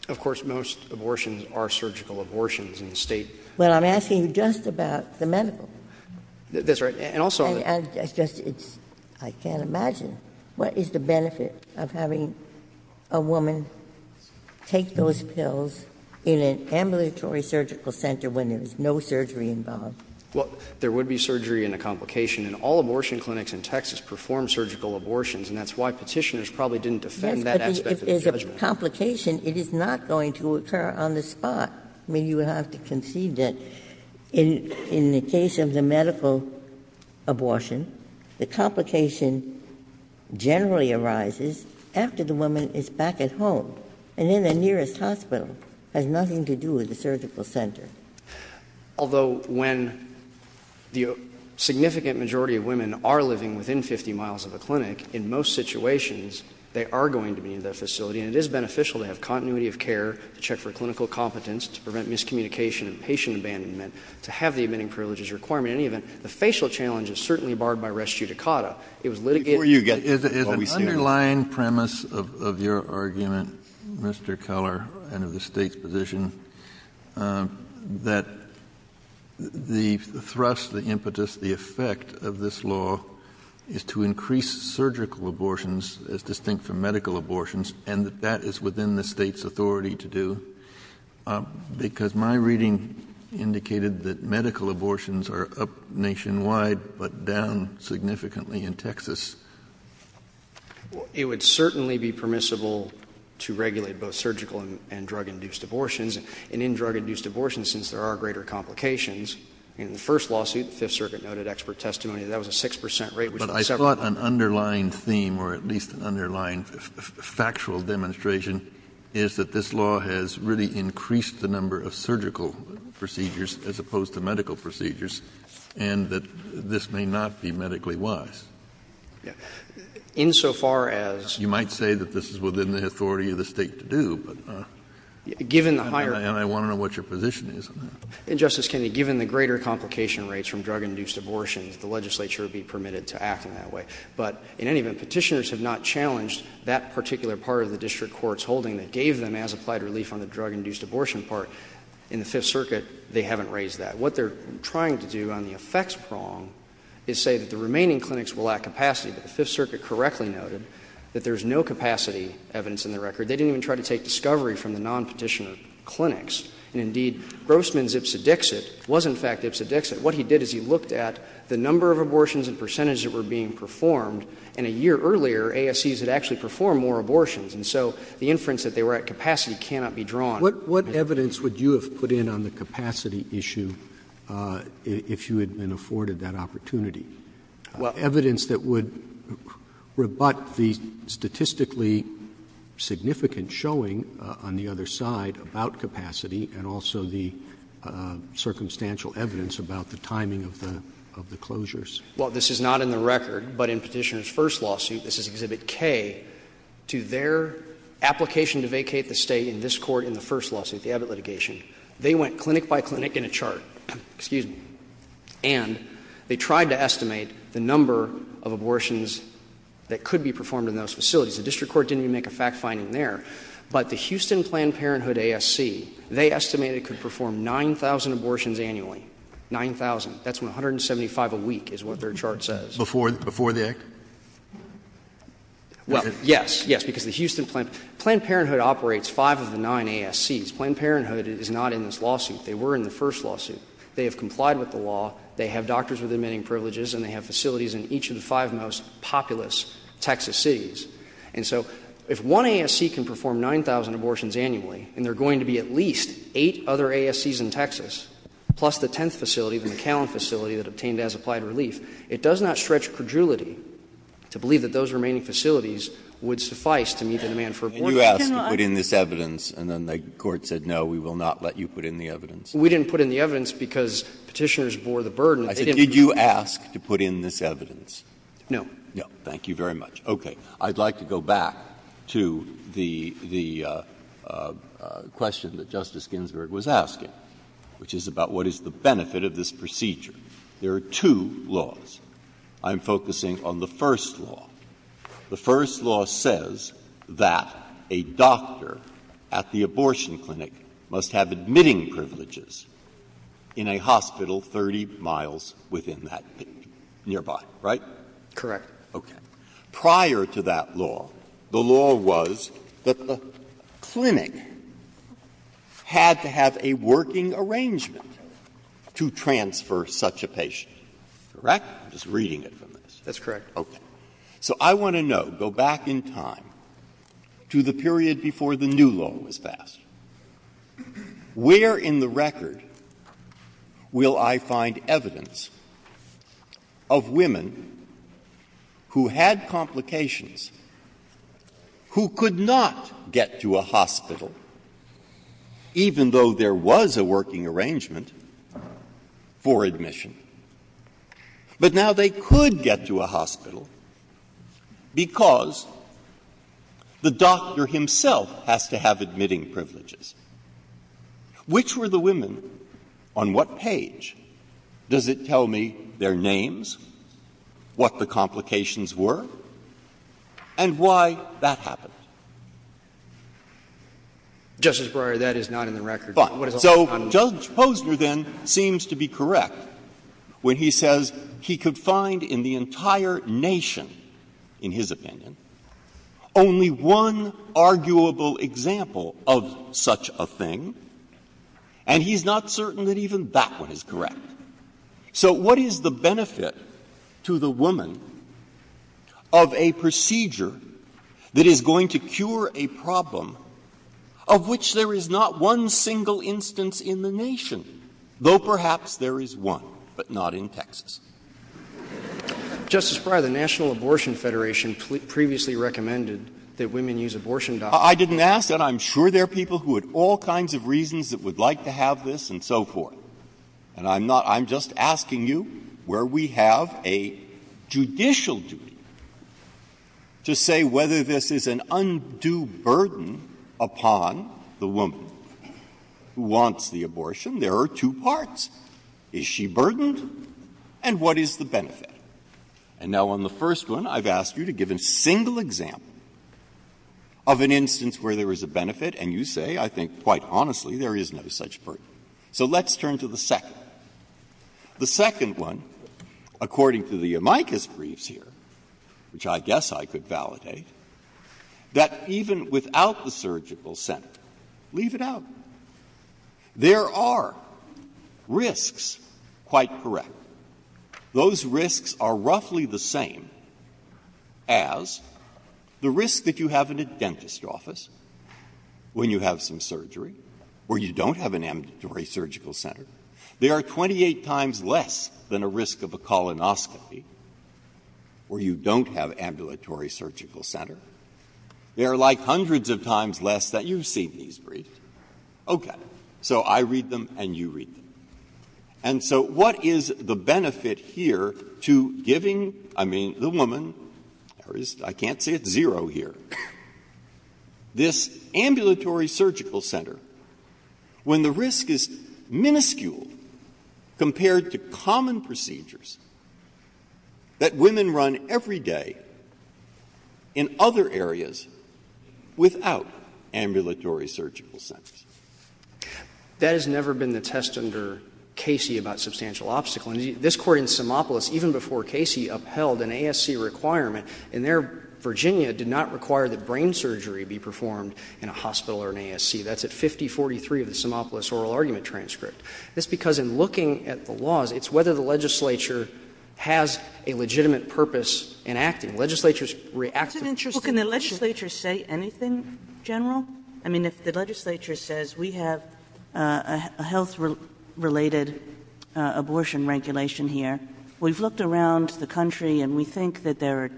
Of course, most abortions are surgical abortions in the state. Well, I'm asking you just about the medical. That's right, and also... I can't imagine. What is the benefit of having a woman take those pills in an ambulatory surgical center when there's no surgery involved? Well, there would be surgery in a complication, and all abortion clinics in Texas perform surgical abortions, and that's why Petitioner's probably didn't defend that aspect of the judgment. If there's a complication, it is not going to occur on the spot. I mean, you would have to concede that in the case of the medical abortion, the complication generally arises after the woman is back at home, and in the nearest hospital. It has nothing to do with the surgical center. Although when the significant majority of women are living within 50 miles of the clinic, in most situations, they are going to be in the facility, and it is beneficial to have continuity of care, check for clinical competence to prevent miscommunication and patient abandonment, to have the abetting privileges required. In any event, the facial challenge is certainly barred by res judicata. It was litigated... Is the underlying premise of your argument, Mr. Keller, and of the State's position, that the thrust, the impetus, the effect of this law is to increase surgical abortions as distinct from medical abortions, and that that is within the State's authority to do, because my reading indicated that medical abortions are up nationwide but down significantly in Texas. It would certainly be permissible to regulate both surgical and drug-induced abortions. And in drug-induced abortions, since there are greater complications, in the first lawsuit, the Fifth Circuit noted expert testimony that that was a 6% rate... But I thought an underlying theme, or at least an underlying factual demonstration, is that this law has really increased the number of surgical procedures as opposed to medical procedures, and that this may not be medically wise. Insofar as... You might say that this is within the authority of the State to do, but... Given the higher... And I want to know what your position is on that. And, Justice Kennedy, given the greater complication rates from drug-induced abortion, the legislature would be permitted to act in that way. But, in any event, Petitioners have not challenged that particular part of the district court's holding that gave them as-applied relief on the drug-induced abortion part. In the Fifth Circuit, they haven't raised that. What they're trying to do on the effects prong is say that the remaining clinics will lack capacity. The Fifth Circuit correctly noted that there's no capacity evidence in the record. They didn't even try to take discovery from the non-Petitioner clinics. And, indeed, Grossman's ipsedixit was, in fact, ipsedixit. What he did is he looked at the number of abortions and percentages that were being performed. And a year earlier, ASCs had actually performed more abortions. And so the inference that they were at capacity cannot be drawn. What evidence would you have put in on the capacity issue if you had been afforded that opportunity? Evidence that would rebut the statistically significant showing on the other side about capacity and also the circumstantial evidence about the timing of the closures. Well, this is not in the record, but in Petitioner's first lawsuit, this is Exhibit K, to their application to vacate the state in this court in the first lawsuit, the Abbott litigation. They went clinic by clinic in a chart. Excuse me. And they tried to estimate the number of abortions that could be performed in those facilities. The district court didn't even make a fact-finding there. But the Houston Planned Parenthood ASC, they estimated it could perform 9,000 abortions annually. 9,000. That's 175 a week is what their chart says. Before the act? Well, yes, yes, because the Houston Planned Parenthood... Planned Parenthood operates five of the nine ASCs. Planned Parenthood is not in this lawsuit. They were in the first lawsuit. They have complied with the law, they have doctors with emanating privileges, and they have facilities in each of the five most populous Texas cities. And so if one ASC can perform 9,000 abortions annually, and there are going to be at least eight other ASCs in Texas, plus the tenth facility, the McAllen facility, that obtained as-applied relief, it does not stretch credulity to believe that those remaining facilities would suffice to meet the demand for abortions. And you asked to put in this evidence, and then the court said, no, we will not let you put in the evidence. We didn't put in the evidence because Petitioners bore the burden. Did you ask to put in this evidence? No. No. Thank you very much. Okay. I'd like to go back to the question that Justice Ginsburg was asking, which is about what is the benefit of this procedure. There are two laws. I'm focusing on the first law. The first law says that a doctor at the abortion clinic must have admitting privileges in a hospital 30 miles within that city, nearby. Right? Correct. Okay. Prior to that law, the law was that the clinic had to have a working arrangement to transfer such a patient. Correct? I'm just reading it from this. That's correct. Okay. So I want to know, go back in time, to the period before the new law was passed, where in the record will I find evidence of women who had complications, who could not get to a hospital, even though there was a working arrangement for admission. But now they could get to a hospital because the doctor himself has to have admitting privileges. Which were the women? On what page? Does it tell me their names, what the complications were, and why that happened? Justice Breyer, that is not in the record. So Judge Posner then seems to be correct when he says he could find in the entire nation, in his opinion, only one arguable example of such a thing, and he's not certain that even that one is correct. So what is the benefit to the woman of a procedure that is going to cure a problem of which there is not one single instance in the nation? Though perhaps there is one, but not in Texas. Justice Breyer, the National Abortion Federation previously recommended that women use abortion doctors. I didn't ask that. I'm sure there are people who had all kinds of reasons that would like to have this and so forth, and I'm just asking you where we have a judicial duty to say whether this is an undue burden upon the woman who wants the abortion. There are two parts. Is she burdened? And what is the benefit? And now on the first one, I've asked you to give a single example of an instance where there is a benefit, and you say, I think quite honestly, there is no such burden. So let's turn to the second. The second one, according to the amicus briefs here, which I guess I could validate, that even without the surgical center, leave it out, there are risks quite correct. Those risks are roughly the same as the risk that you have in a dentist's office when you have some surgery where you don't have an ambulatory surgical center. They are 28 times less than a risk of a colonoscopy where you don't have ambulatory surgical center. They are like hundreds of times less that you've seen these briefs. Okay, so I read them and you read them. And so what is the benefit here to giving, I mean the woman, I can't see a zero here, this ambulatory surgical center when the risk is minuscule compared to common procedures that women run every day in other areas without ambulatory surgical centers? That has never been the test under Casey about substantial obstacle. This court in Semopolis, even before Casey, upheld an ASC requirement, and there Virginia did not require that brain surgery be performed in a hospital or an ASC. That's at 5043 of the Semopolis oral argument transcript. That's because in looking at the laws, it's whether the legislature has a legitimate purpose in acting. Legislatures react... Well, can the legislature say anything, General? I mean, if the legislature says we have a health-related abortion regulation here, we've looked around the country and we think that there are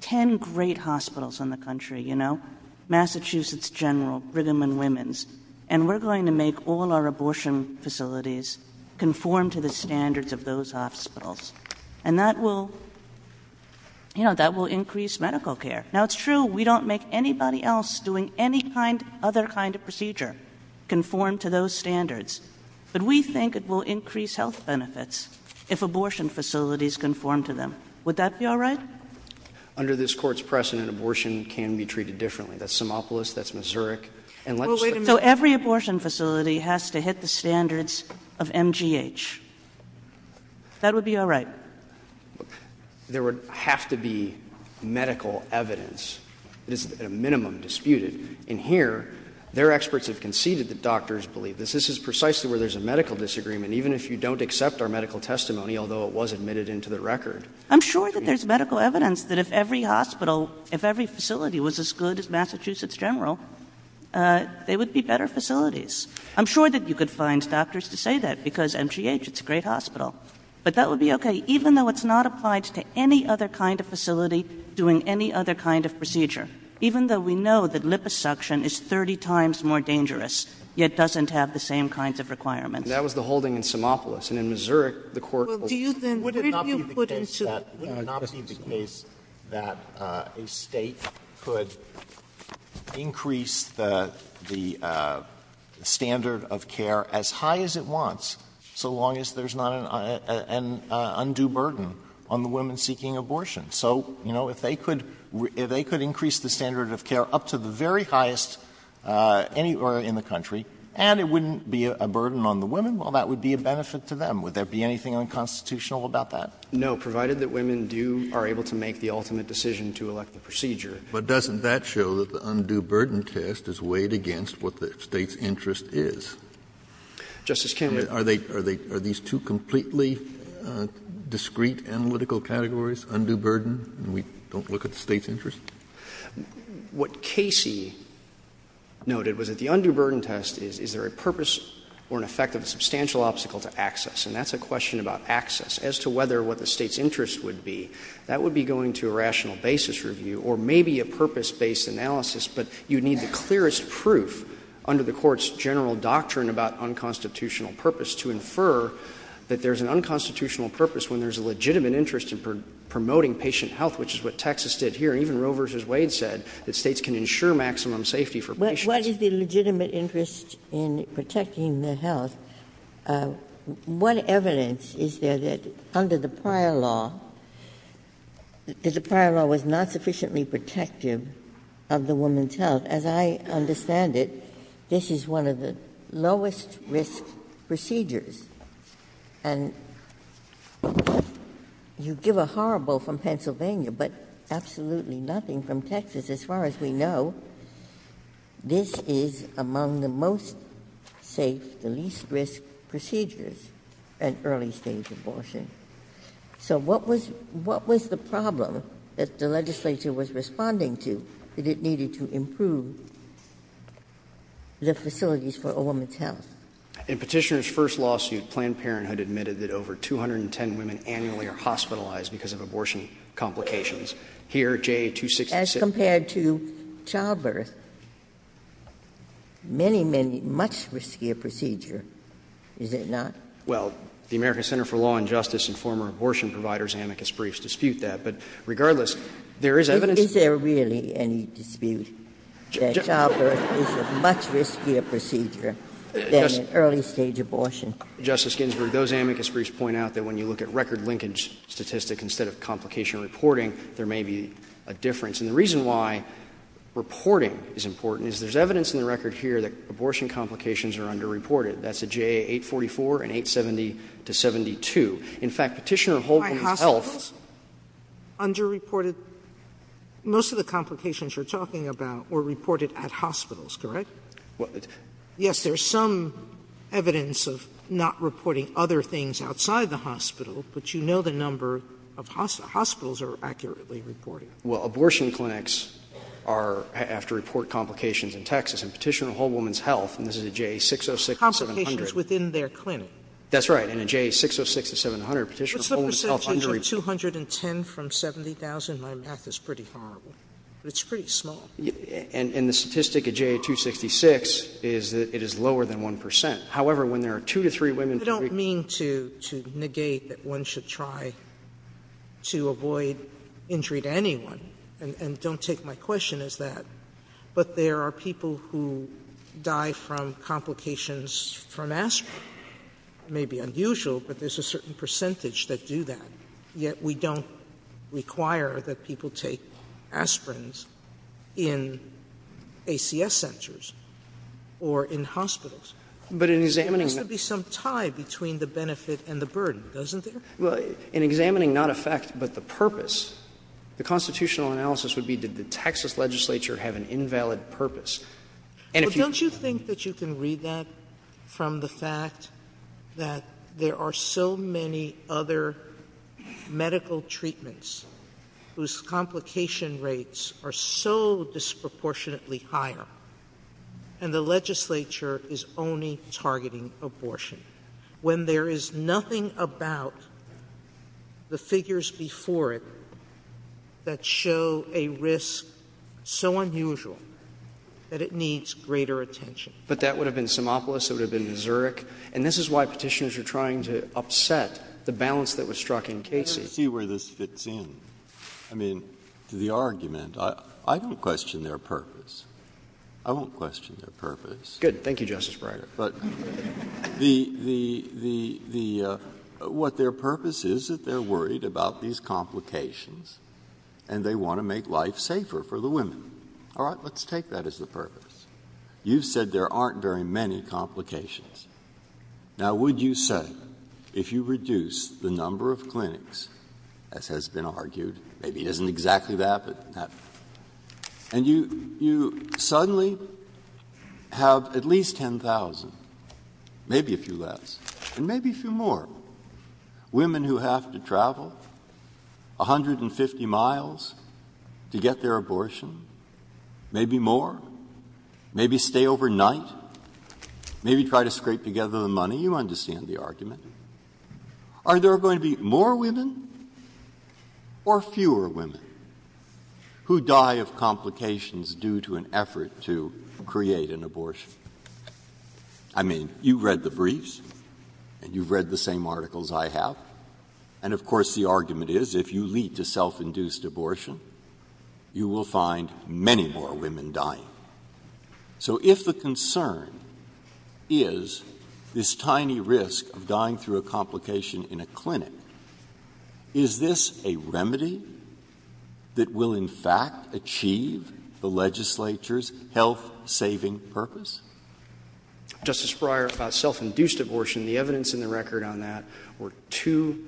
10 great hospitals in the country, Massachusetts General, Brigham and Women's, and we're going to make all our abortion facilities conform to the standards of those hospitals. And that will increase medical care. Now, it's true, we don't make anybody else doing any other kind of procedure conform to those standards, but we think it will increase health benefits if abortion facilities conform to them. Would that be all right? Under this Court's precedent, abortion can be treated differently. That's Semopolis, that's Missouri... So every abortion facility has to hit the standards of MGH. That would be all right? There would have to be medical evidence. It is at a minimum disputed. And here, their experts have conceded that doctors believe this. This is precisely where there's a medical disagreement, even if you don't accept our medical testimony, although it was admitted into the record. I'm sure that there's medical evidence that if every hospital, if every facility was as good as Massachusetts General, they would be better facilities. I'm sure that you could find doctors to say that because MGH, it's a great hospital. But that would be okay, even though it's not applied to any other kind of facility doing any other kind of procedure, even though we know that liposuction is 30 times more dangerous yet doesn't have the same kinds of requirements. That was the holding in Semopolis. And in Missouri, the Court... Would it not be the case that a state could increase the standard of care as high as it wants so long as there's not an undue burden on the women seeking abortion? So, you know, if they could increase the standard of care up to the very highest anywhere in the country and it wouldn't be a burden on the women, well, that would be a benefit to them. Would there be anything unconstitutional about that? No, provided that women do... are able to make the ultimate decision to elect the procedure. But doesn't that show that the undue burden test is weighed against what the state's interest is? Justice Kennedy... Are these two completely discrete analytical categories, undue burden, and we don't look at the state's interest? What Casey noted was that the undue burden test is, is there a purpose or an effect of a substantial obstacle to access? And that's a question about access. As to whether what the state's interest would be, that would be going to a rational basis review or maybe a purpose-based analysis, but you need the clearest proof under the Court's general doctrine about unconstitutional purpose to infer that there's an unconstitutional purpose when there's a legitimate interest in promoting patient health, which is what Texas did here. Even Roe v. Wade said that states can ensure maximum safety for patients. But what is the legitimate interest in protecting their health? What evidence is there that under the prior law, that the prior law was not sufficiently protective of the woman's health? As I understand it, this is one of the lowest-risk procedures. And you give a horrible from Pennsylvania, but absolutely nothing from Texas. As far as we know, this is among the most safe, the least-risk procedures in early-stage abortion. So what was the problem that the legislature was responding to that it needed to improve the facilities for a woman's health? In Petitioner's first lawsuit, Planned Parenthood admitted that over 210 women annually are hospitalized because of abortion complications. As compared to childbirth, many, many, much riskier procedure, is it not? Well, the American Center for Law and Justice and former abortion providers, Amicus Briefs, dispute that. But regardless, there is evidence... Is there really any dispute that childbirth is a much riskier procedure than an early-stage abortion? Justice Ginsburg, those Amicus Briefs point out that when you look at record linkage statistic instead of complication reporting, there may be a difference. And the reason why reporting is important is there's evidence in the record here that abortion complications are underreported. That's at JA 844 and 870-72. In fact, Petitioner of Whole Woman Health... Underreported? Most of the complications you're talking about were reported at hospitals, correct? Yes, there's some evidence of not reporting other things outside the hospital, but you know the number of hospitals are accurately reported. Well, abortion clinics are... have to report complications in Texas. In Petitioner of Whole Woman's Health, and this is at JA 606 and 700... Complications within their clinic. That's right. And at JA 606 and 700, Petitioner of Whole Woman's Health... Let's look at the statistics. 210 from 70,000, my math is pretty horrible. But it's pretty small. And the statistic at JA 266 is that it is lower than 1%. However, when there are two to three women... I don't mean to negate that one should try to avoid injury to anyone. And don't take my question as that. But there are people who die from complications from aspirin. It may be unusual, but there's a certain percentage that do that. Yet we don't require that people take aspirin in ACS centers or in hospitals. But in examining... There has to be some tie between the benefit and the burden. Doesn't there? Well, in examining not a fact but the purpose, the constitutional analysis would be did the Texas legislature have an invalid purpose? Don't you think that you can read that from the fact that there are so many other medical treatments whose complication rates are so disproportionately higher and the legislature is only targeting abortion when there is nothing about the figures before it that show a risk so unusual that it needs greater attention? But that would have been Simopoulos. It would have been Zurich. And this is why petitioners are trying to upset the balance that was struck in cases. Let's see where this fits in. I mean, to the argument, I don't question their purpose. I don't question their purpose. Good. Thank you, Justice Breyer. But what their purpose is is that they're worried about these complications and they want to make life safer for the women. All right, let's take that as the purpose. You said there aren't very many complications. Now, would you say if you reduce the number of clinics, as has been argued, maybe it isn't exactly that, and you suddenly have at least 10,000, maybe a few less, and maybe a few more, women who have to travel 150 miles to get their abortion, maybe more, maybe stay overnight, maybe try to scrape together the money? You understand the argument. Are there going to be more women or fewer women who die of complications due to an effort to create an abortion? I mean, you've read the briefs, and you've read the same articles I have, and of course the argument is if you lead to self-induced abortion, you will find many more women dying. So if the concern is this tiny risk of dying through a complication in a clinic, is this a remedy that will in fact achieve the legislature's health-saving purpose? Justice Breyer, about self-induced abortion, the evidence in the record on that were two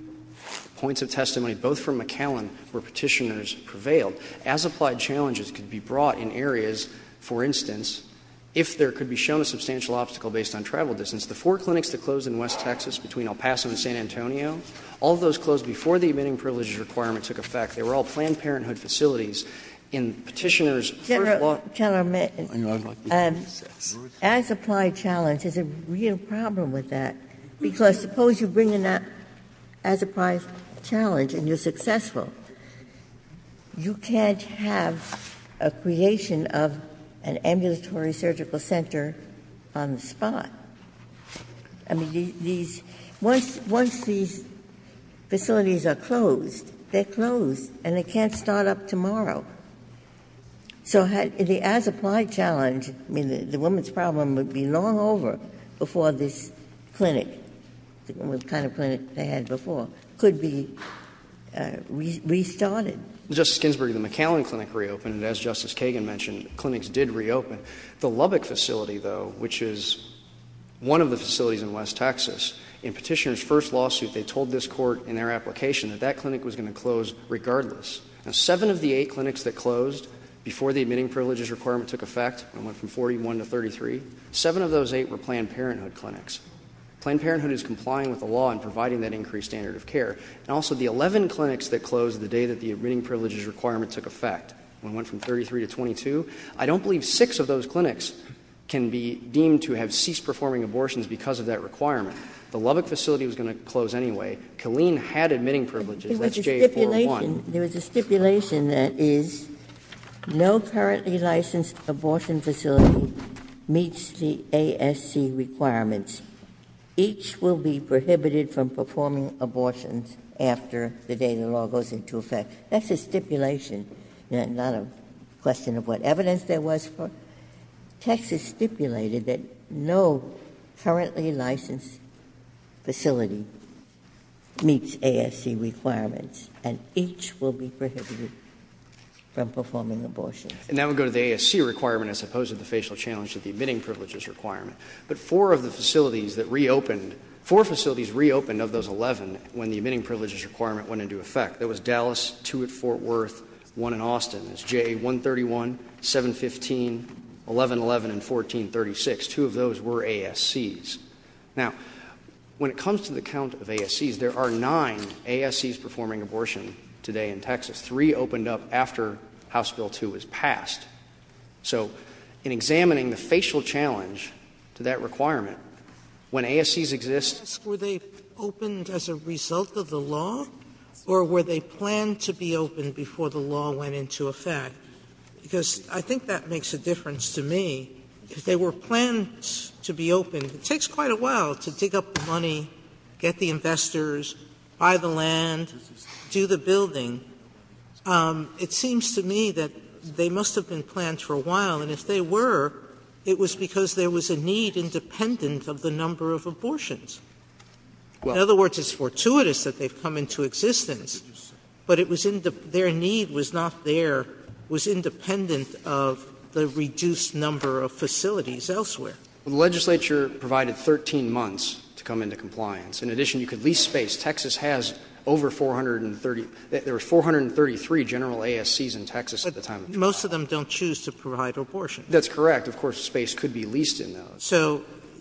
points of testimony, both from McAllen where petitioners prevailed, but as-applied challenges can be brought in areas, for instance, if there could be shown a substantial obstacle based on travel distance. The four clinics that closed in West Texas between El Paso and San Antonio, all those closed before the admitting privileges requirement took effect, they were all Planned Parenthood facilities. General, as-applied challenge is a real problem with that, because suppose you bring in that as-applied challenge and you're successful. You can't have a creation of an ambulatory surgical center on the spot. Once these facilities are closed, they're closed and they can't start up tomorrow. So the as-applied challenge, the woman's problem would be long over before this clinic, the kind of clinic they had before, could be restarted. Justice Ginsburg, the McAllen Clinic reopened, and as Justice Kagan mentioned, clinics did reopen. The Lubbock facility, though, which is one of the facilities in West Texas, in petitioners' first lawsuit, they told this Court in their application that that clinic was going to close regardless. And seven of the eight clinics that closed before the admitting privileges requirement took effect, and went from 41 to 33, Planned Parenthood is complying with the law and providing that increased standard of care. And also the 11 clinics that closed on the day that the admitting privileges requirement took effect, when it went from 33 to 22, I don't believe six of those clinics can be deemed to have ceased performing abortions because of that requirement. The Lubbock facility was going to close anyway. Killeen had admitting privileges. That's J401. There's a stipulation that is no currently licensed abortion facility meets the ASC requirements. Each will be prohibited from performing abortions after the day the law goes into effect. That's a stipulation, not a question of what evidence there was for it. Texas stipulated that no currently licensed facility meets ASC requirements, and each will be prohibited from performing abortions. And that would go to the ASC requirement as opposed to the facial challenges of the admitting privileges requirement. But four of the facilities that reopened, four facilities reopened of those 11 when the admitting privileges requirement went into effect. That was Dallas, two at Fort Worth, one in Austin. That's J131, 715, 1111, and 1436. Two of those were ASCs. Now, when it comes to the count of ASCs, there are nine ASCs performing abortion today in Texas. Three opened up after House Bill 2 was passed. So in examining the facial challenge to that requirement, when ASCs exist... Were they opened as a result of the law, or were they planned to be opened before the law went into effect? Because I think that makes a difference to me. If they were planned to be opened, it takes quite a while to dig up the money, get the investors, buy the land, do the building. It seems to me that they must have been planned for a while, and if they were, it was because there was a need independent of the number of abortions. In other words, it's fortuitous that they've come into existence, but their need was not there, was independent of the reduced number of facilities elsewhere. The legislature provided 13 months to come into compliance. In addition, you could lease space. Texas has over 430... There were 433 general ASCs in Texas at the time. But most of them don't choose to provide abortion. That's correct. Of course, space could be leased in those. So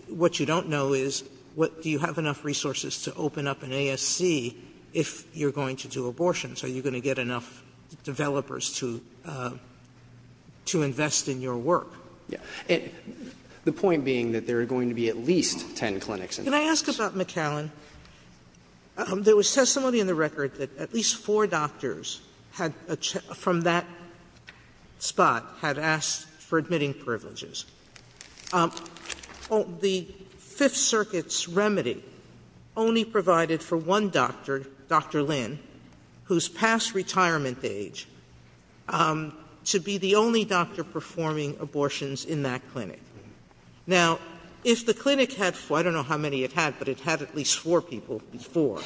what you don't know is, do you have enough resources to open up an ASC if you're going to do abortions? Are you going to get enough developers to invest in your work? Yeah. The point being that there are going to be at least ten clinics. Can I ask you something, McAllen? There was testimony in the record that at least four doctors from that spot have asked for admitting privileges. The Fifth Circuit's remedy only provided for one doctor, Dr Lin, whose past retirement age, to be the only doctor performing abortions in that clinic. Now, if the clinic had four, I don't know how many it had, but it had at least four people before,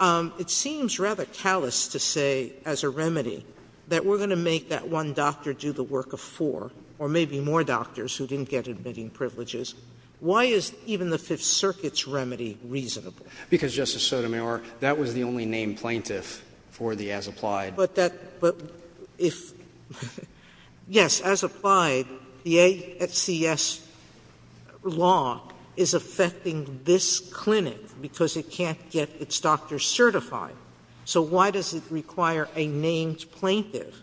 it seems rather callous to say, as a remedy, that we're going to make that one doctor do the work of four or maybe more doctors who didn't get admitting privileges. Why is even the Fifth Circuit's remedy reasonable? Because, Justice Sotomayor, that was the only named plaintiff for the as-applied. Yes, as-applied. The AFCS law is affecting this clinic because it can't get its doctors certified. So why does it require a named plaintiff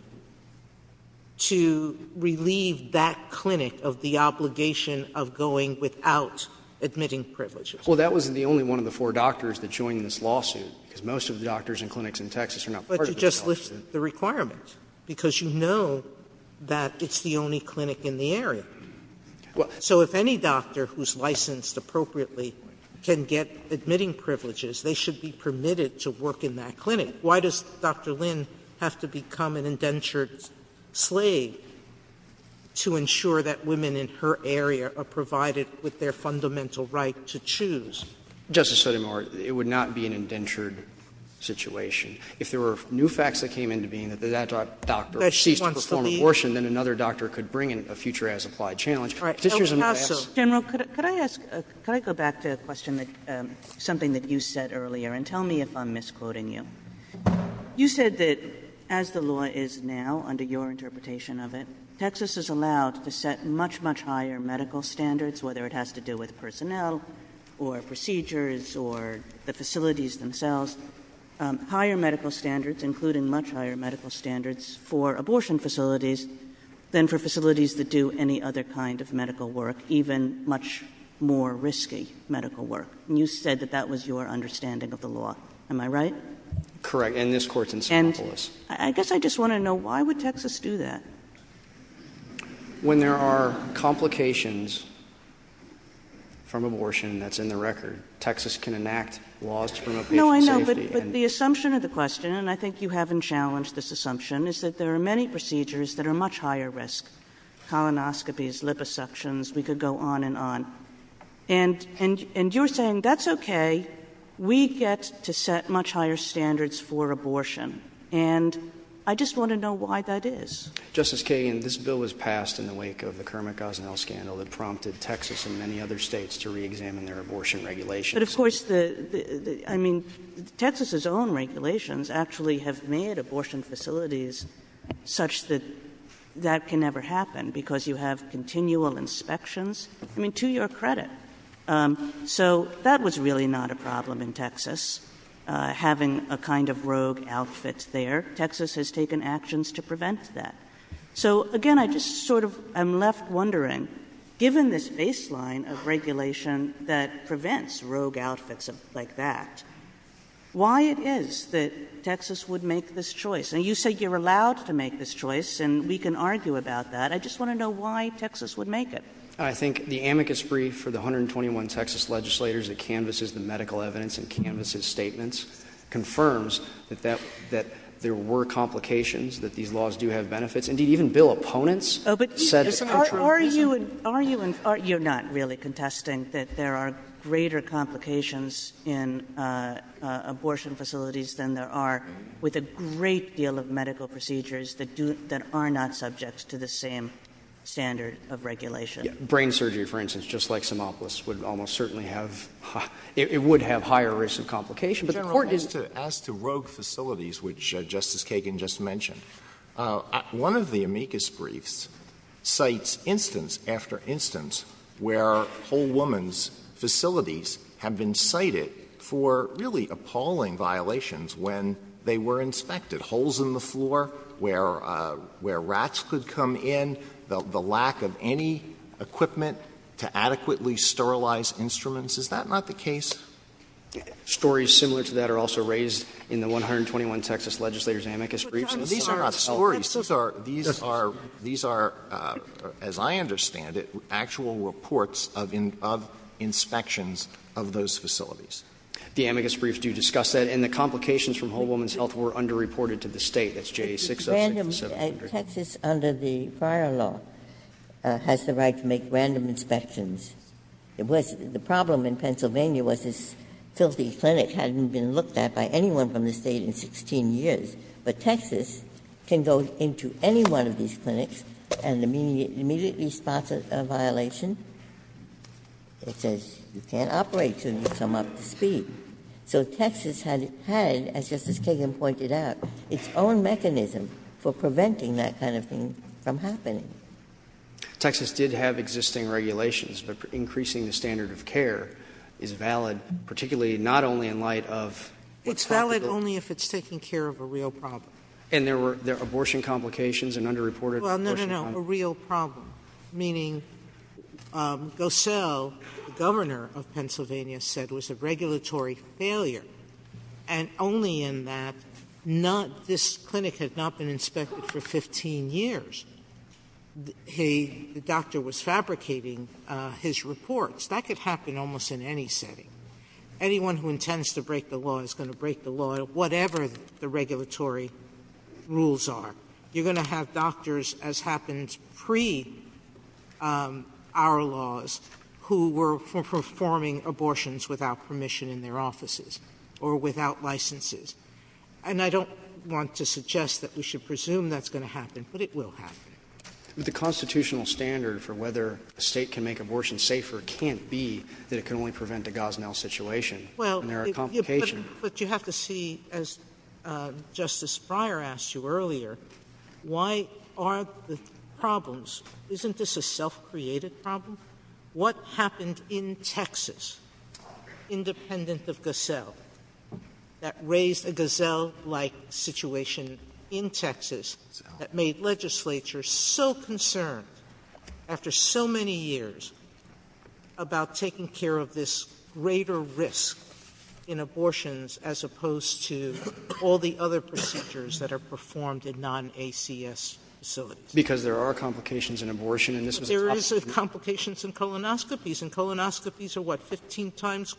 to relieve that clinic of the obligation of going without admitting privileges? Well, that wasn't the only one of the four doctors that joined this lawsuit because most of the doctors and clinics in Texas are not part of this lawsuit. But you just listed the requirements because you know that it's the only clinic in the area. So if any doctor who's licensed appropriately can get admitting privileges, they should be permitted to work in that clinic. Why does Dr. Lynn have to become an indentured slave to ensure that women in her area are provided with their fundamental right to choose? Justice Sotomayor, it would not be an indentured situation. If there were new facts that came into being that that doctor ceased to perform abortion, then another doctor could bring in a future as-applied challenge. But this is not as of... General, could I go back to a question, something that you said earlier? And tell me if I'm misquoting you. You said that as the law is now, under your interpretation of it, Texas is allowed to set much, much higher medical standards, whether it has to do with personnel or procedures or the facilities themselves. Higher medical standards, including much higher medical standards for abortion facilities than for facilities that do any other kind of medical work, even much more risky medical work. You said that that was your understanding of the law. Am I right? Correct, and this Court's encyclical is. I guess I just want to know, why would Texas do that? When there are complications from abortion that's in the record, Texas can enact laws to promote safety. No, I know, but the assumption of the question, and I think you haven't challenged this assumption, is that there are many procedures that are much higher risk. Colonoscopies, liposuctions, we could go on and on. And you're saying, that's okay, we get to set much higher standards for abortion. And I just want to know why that is. Justice Kagan, this bill was passed in the wake of the Kermit Gosnell scandal that prompted Texas and many other states to reexamine their abortion regulations. But of course, Texas' own regulations actually have made abortion facilities such that that can never happen because you have continual inspections. I mean, to your credit. So that was really not a problem in Texas, having a kind of rogue outfit there. Texas has taken actions to prevent that. So again, I'm left wondering, given this baseline of regulation that prevents rogue outfits like that, why it is that Texas would make this choice? And you said you're allowed to make this choice, and we can argue about that. I just want to know why Texas would make it. I think the amicus brief for the 121 Texas legislators that canvases the medical evidence and canvases statements confirms that there were complications, that these laws do have benefits. And even bill opponents said... Are you... You're not really contesting that there are greater complications in abortion facilities than there are with a great deal of medical procedures that are not subject to the same standard of regulation. Brain surgery, for instance, just like Sinopolis, would almost certainly have... It would have higher risk of complications. But the point is, as to rogue facilities, which Justice Kagan just mentioned, one of the amicus briefs cites instance after instance where Whole Woman's facilities have been cited for really appalling violations when they were inspected. Holes in the floor where rats could come in, the lack of any equipment to adequately sterilize instruments. Is that not the case? Stories similar to that are also raised in the 121 Texas legislators' amicus briefs. These are not stories. These are, as I understand it, actual reports of inspections of those facilities. The amicus briefs do discuss that. And the complications from Whole Woman's Health were underreported to the state. It's J-6... Texas, under the fire law, has the right to make random inspections. The problem in Pennsylvania was this filthy clinic hadn't been looked at by anyone from the state in 16 years. But Texas can go into any one of these clinics and immediately spot a violation. It says you can't operate until you come up to the feet. So Texas had, as Justice Kagan pointed out, its own mechanism for preventing that kind of thing from happening. Texas did have existing regulations, but increasing the standard of care is valid, particularly not only in light of... It's valid only if it's taking care of a real problem. And there were abortion complications and underreported... Well, no, no, no, a real problem, meaning Gosell, the governor of Pennsylvania, said it was a regulatory failure, and only in that this clinic had not been inspected for 15 years. The doctor was fabricating his reports. That could happen almost in any city. Anyone who intends to break the law is going to break the law, whatever the regulatory rules are. You're going to have doctors, as happened pre-our laws, who were performing abortions without permission in their offices or without licenses. And I don't want to suggest that we should presume that's going to happen, but it will happen. The constitutional standard for whether a state can make abortions safer can't be that it can only prevent a Gosnell situation and there are complications. But you have to see, as Justice Breyer asked you earlier, why are the problems... Isn't this a self-created problem? What happened in Texas, independent of Gosell, that raised a Gosell-like situation in Texas that made legislature so concerned after so many years about taking care of this greater risk in abortions as opposed to all the other procedures that are performed in non-ACS facilities? Because there are complications in abortion. There is complications in colonoscopies, and colonoscopies are what, 15 times...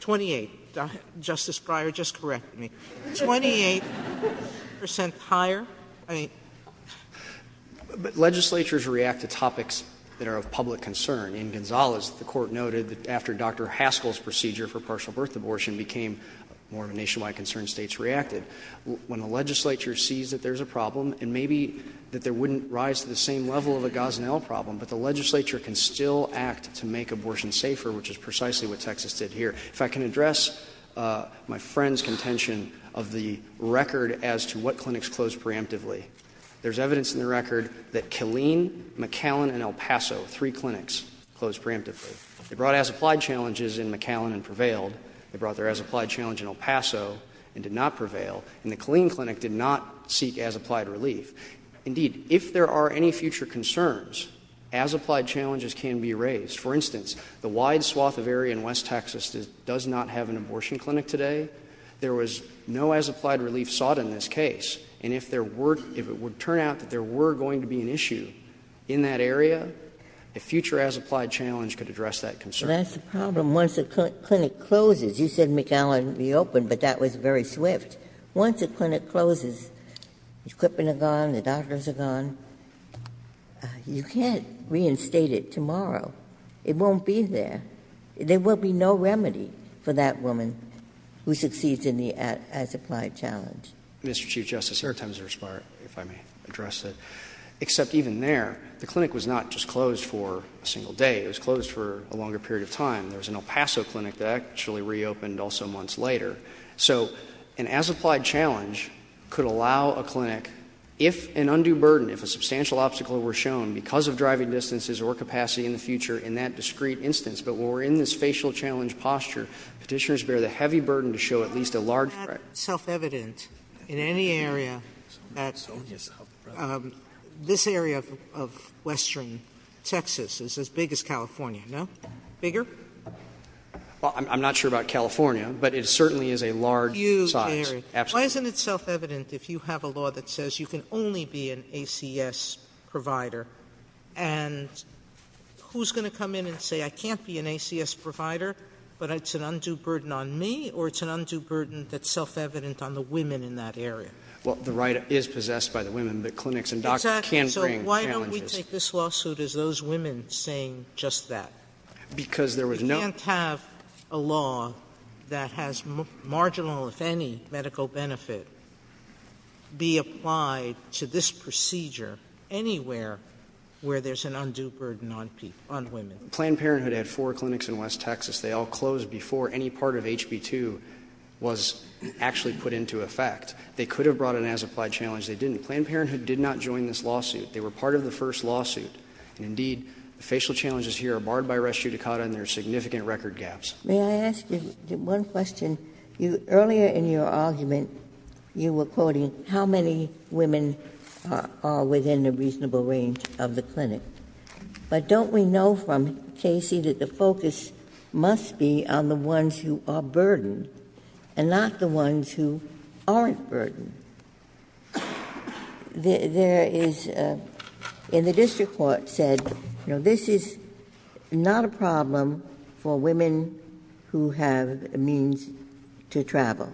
28. Justice Breyer, just correct me. 28% higher. Legislatures react to topics that are of public concern. In Gonzalez, the court noted that after Dr. Haskell's procedure for partial birth abortion became more of a nationwide concern, states reacted. When the legislature sees that there's a problem and maybe that there wouldn't rise to the same level of a Gosnell problem, but the legislature can still act to make abortions safer, which is precisely what Texas did here. If I can address my friend's contention of the record as to what clinics closed preemptively, there's evidence in the record that Killeen, McAllen, and El Paso, three clinics, closed preemptively. They brought as-applied challenges in McAllen and prevailed. They brought their as-applied challenge in El Paso and did not prevail. And the Killeen clinic did not seek as-applied relief. Indeed, if there are any future concerns, as-applied challenges can be raised. For instance, the wide swath of area in West Texas does not have an abortion clinic today. There was no as-applied relief sought in this case. And if there were, if it would turn out that there were going to be an issue in that area, a future as-applied challenge could address that concern. That's the problem. Once a clinic closes, you said McAllen reopened, but that was very swift. Once a clinic closes, equipment are gone, the doctors are gone, you can't reinstate it tomorrow. It won't be there. There will be no remedy for that woman who succeeds in the as-applied challenge. Mr. Chief Justice, there are times there's part, if I may address it, except even there, the clinic was not just closed for a single day. It was closed for a longer period of time. There was an El Paso clinic that actually reopened also months later. So an as-applied challenge could allow a clinic, if an undue burden, if a substantial obstacle were shown because of driving distances or capacity in the future in that discrete instance, but when we're in the spatial challenge posture, petitioners bear the heavy burden to show at least a large... Isn't that self-evident in any area? Absolutely. This area of western Texas is as big as California, no? Bigger? Well, I'm not sure about California, but it certainly is a large size. Why isn't it self-evident if you have a law that says you can only be an ACS provider, and who's going to come in and say, I can't be an ACS provider, but it's an undue burden on me, or it's an undue burden that's self-evident on the women in that area? Well, the right is possessed by the women. The clinics and doctors can bring challenges. So why don't we take this lawsuit as those women saying just that? Because there was no... You can't have a law that has marginal, if any, medical benefit be applied to this procedure anywhere where there's an undue burden on women. Planned Parenthood had four clinics in west Texas. They all closed before any part of HB 2 was actually put into effect. They could have brought an as-applied challenge. They didn't. Planned Parenthood did not join this lawsuit. They were part of the first lawsuit. Indeed, the facial challenges here are barred by res judicata, and there are significant record gaps. May I ask you one question? Earlier in your argument, you were quoting how many women are within the reasonable range of the clinic. But don't we know from Casey that the focus must be on the ones who are burdened and not the ones who aren't burdened? There is... And the district court said, you know, this is not a problem for women who have a means to travel,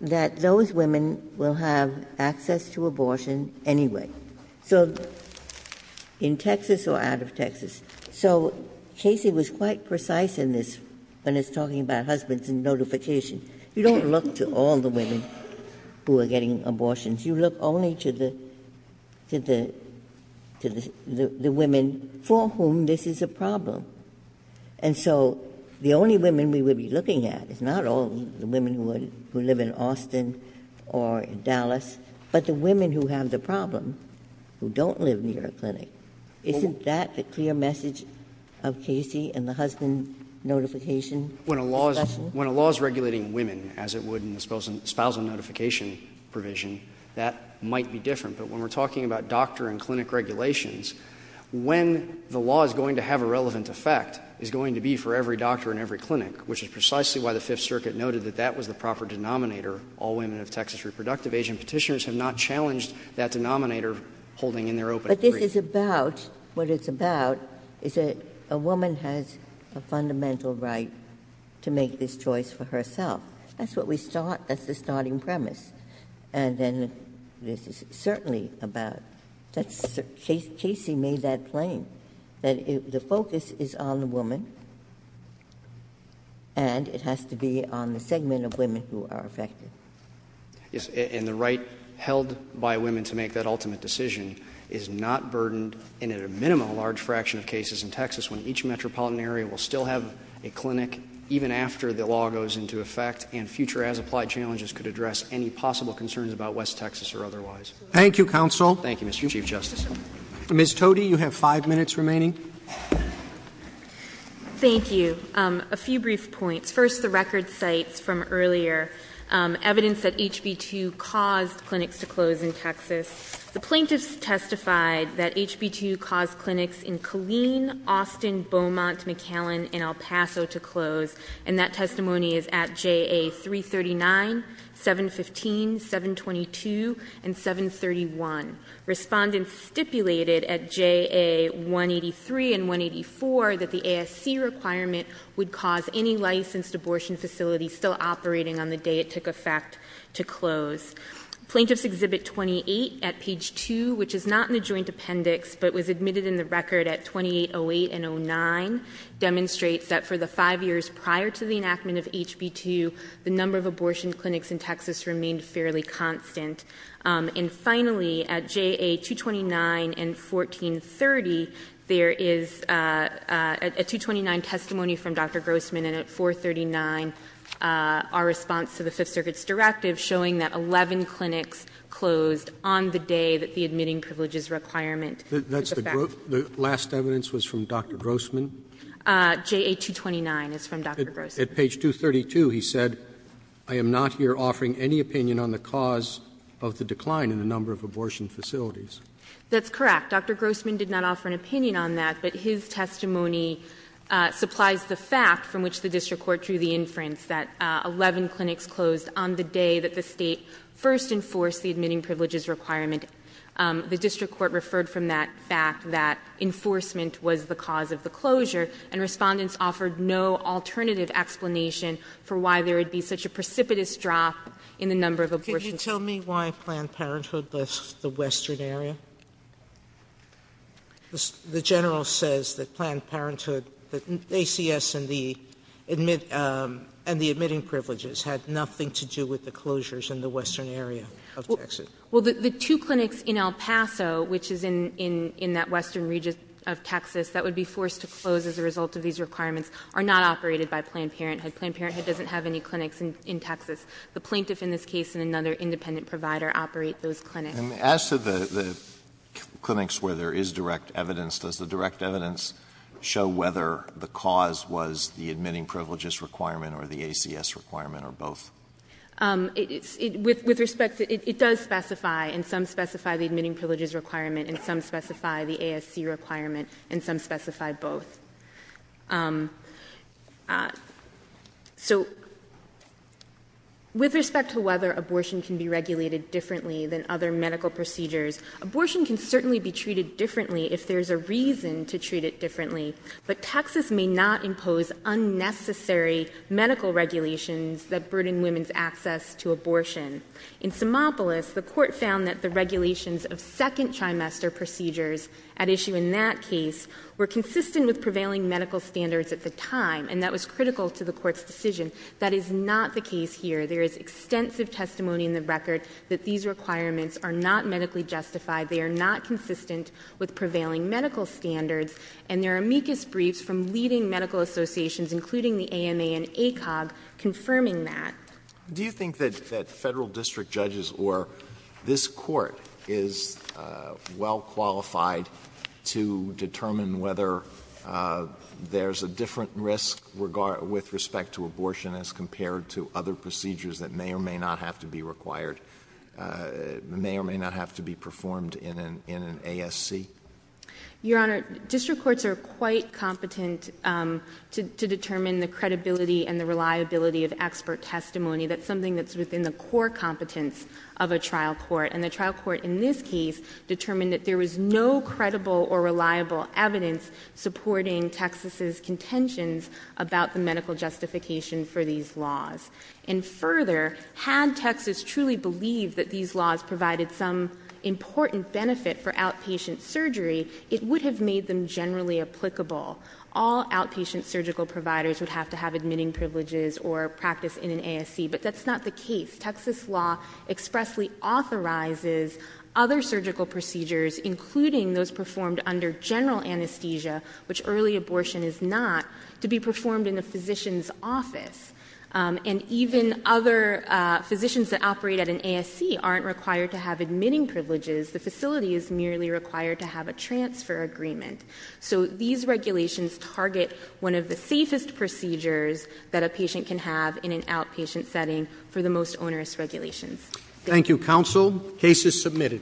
that those women will have access to abortion anyway, in Texas or out of Texas. So Casey was quite precise in this when he's talking about husbands and notifications. You don't look to all the women who are getting abortions. You look only to the women for whom this is a problem. And so the only women we would be looking at is not all the women who live in Austin or Dallas, but the women who have the problem, who don't live near a clinic. Isn't that the clear message of Casey and the husband notification? When a law is regulating women, as it would in the spousal notification provision, that might be different. But when we're talking about doctor and clinic regulations, when the law is going to have a relevant effect, it's going to be for every doctor in every clinic, which is precisely why the Fifth Circuit noted that that was the proper denominator. All women of Texas are reproductive. Asian petitioners have not challenged that denominator holding in their open... But this is about... What it's about is that a woman has a fundamental right to make this choice for herself. That's what we saw as the starting premise. And then this is certainly about... Casey made that plain, that the focus is on the woman and it has to be on the segment of women who are affected. Yes, and the right held by women to make that ultimate decision is not burdened in a minimum large fraction of cases in Texas when each metropolitan area will still have a clinic even after the law goes into effect and future as-applied challenges could address any possible concerns about West Texas or otherwise. Thank you, counsel. Thank you, Mr. Chief Justice. Ms. Todi, you have five minutes remaining. Thank you. A few brief points. First, the record cites from earlier evidence that HB 2 caused clinics to close in Texas. The plaintiffs testified that HB 2 caused clinics in Killeen, Austin, Beaumont, McAllen, and El Paso to close, and that testimony is at JA 339, 715, 722, and 731. Respondents stipulated at JA 183 and 184 that the ASC requirement would cause any licensed abortion facility still operating on the day it took effect to close. Plaintiffs' Exhibit 28 at page 2, which is not in the joint appendix but was admitted in the record at 2808 and 09, demonstrates that for the five years prior to the enactment of HB 2, the number of abortion clinics in Texas remained fairly constant. And finally, at JA 229 and 1430, there is a 229 testimony from Dr. Grossman, and at 439, our response to the Fifth Circuit's directive that the admitting privileges requirement took effect. The last evidence was from Dr. Grossman? JA 229 is from Dr. Grossman. At page 232, he said, I am not here offering any opinion on the cause of the decline in the number of abortion facilities. That's correct. Dr. Grossman did not offer an opinion on that, but his testimony supplies the fact from which the district court drew the inference that 11 clinics closed on the day that the state first enforced the admitting privileges requirement. The district court referred from that fact that enforcement was the cause of the closure, and respondents offered no alternative explanation for why there would be such a precipitous drop in the number of abortion facilities. Can you tell me why Planned Parenthood, that's the western area? The general says that Planned Parenthood, that ACS and the admitting privileges had nothing to do with the closures in the western area of Texas. Well, the two clinics in El Paso, which is in that western region of Texas, that would be forced to close as a result of these requirements, are not operated by Planned Parenthood. Planned Parenthood doesn't have any clinics in Texas. The plaintiff, in this case, and another independent provider operate those clinics. And as to the clinics where there is direct evidence, does the direct evidence show whether the cause was the admitting privileges requirement or the ACS requirement or both? It does specify, and some specify the admitting privileges requirement, and some specify the ASC requirement, and some specify both. So with respect to whether abortion can be regulated differently than other medical procedures, abortion can certainly be treated differently if there's a reason to treat it differently, but Texas may not impose unnecessary medical regulations that burden women's access to abortion. In Simopolis, the court found that the regulations of second trimester procedures at issue in that case were consistent with prevailing medical standards at the time, and that was critical to the court's decision. That is not the case here. There is extensive testimony in the record that these requirements are not medically justified. They are not consistent with prevailing medical standards, and there are amicus briefs from leading medical associations, including the AMA and ACOG, confirming that. Do you think that federal district judges or this court is well qualified to determine whether there's a different risk with respect to abortion as compared to other procedures that may or may not have to be required, may or may not have to be performed in an ASC? Your Honor, district courts are quite competent to determine the credibility and the reliability of expert testimony. That's something that's within the core competence of a trial court, and the trial court in this case determined that there was no credible or reliable evidence supporting Texas's contentions about the medical justification for these laws. And further, had Texas truly believed that these laws provided some important benefit for outpatient surgery, it would have made them generally applicable. All outpatient surgical providers would have to have admitting privileges or practice in an ASC, but that's not the case. Texas law expressly authorizes other surgical procedures, including those performed under general anesthesia, which early abortion is not, to be performed in a physician's office. And even other physicians that operate at an ASC aren't required to have admitting privileges. The facility is merely required to have a transfer agreement. So these regulations target one of the safest procedures that a patient can have in an outpatient setting through the most onerous regulations. Thank you, counsel. Case is submitted.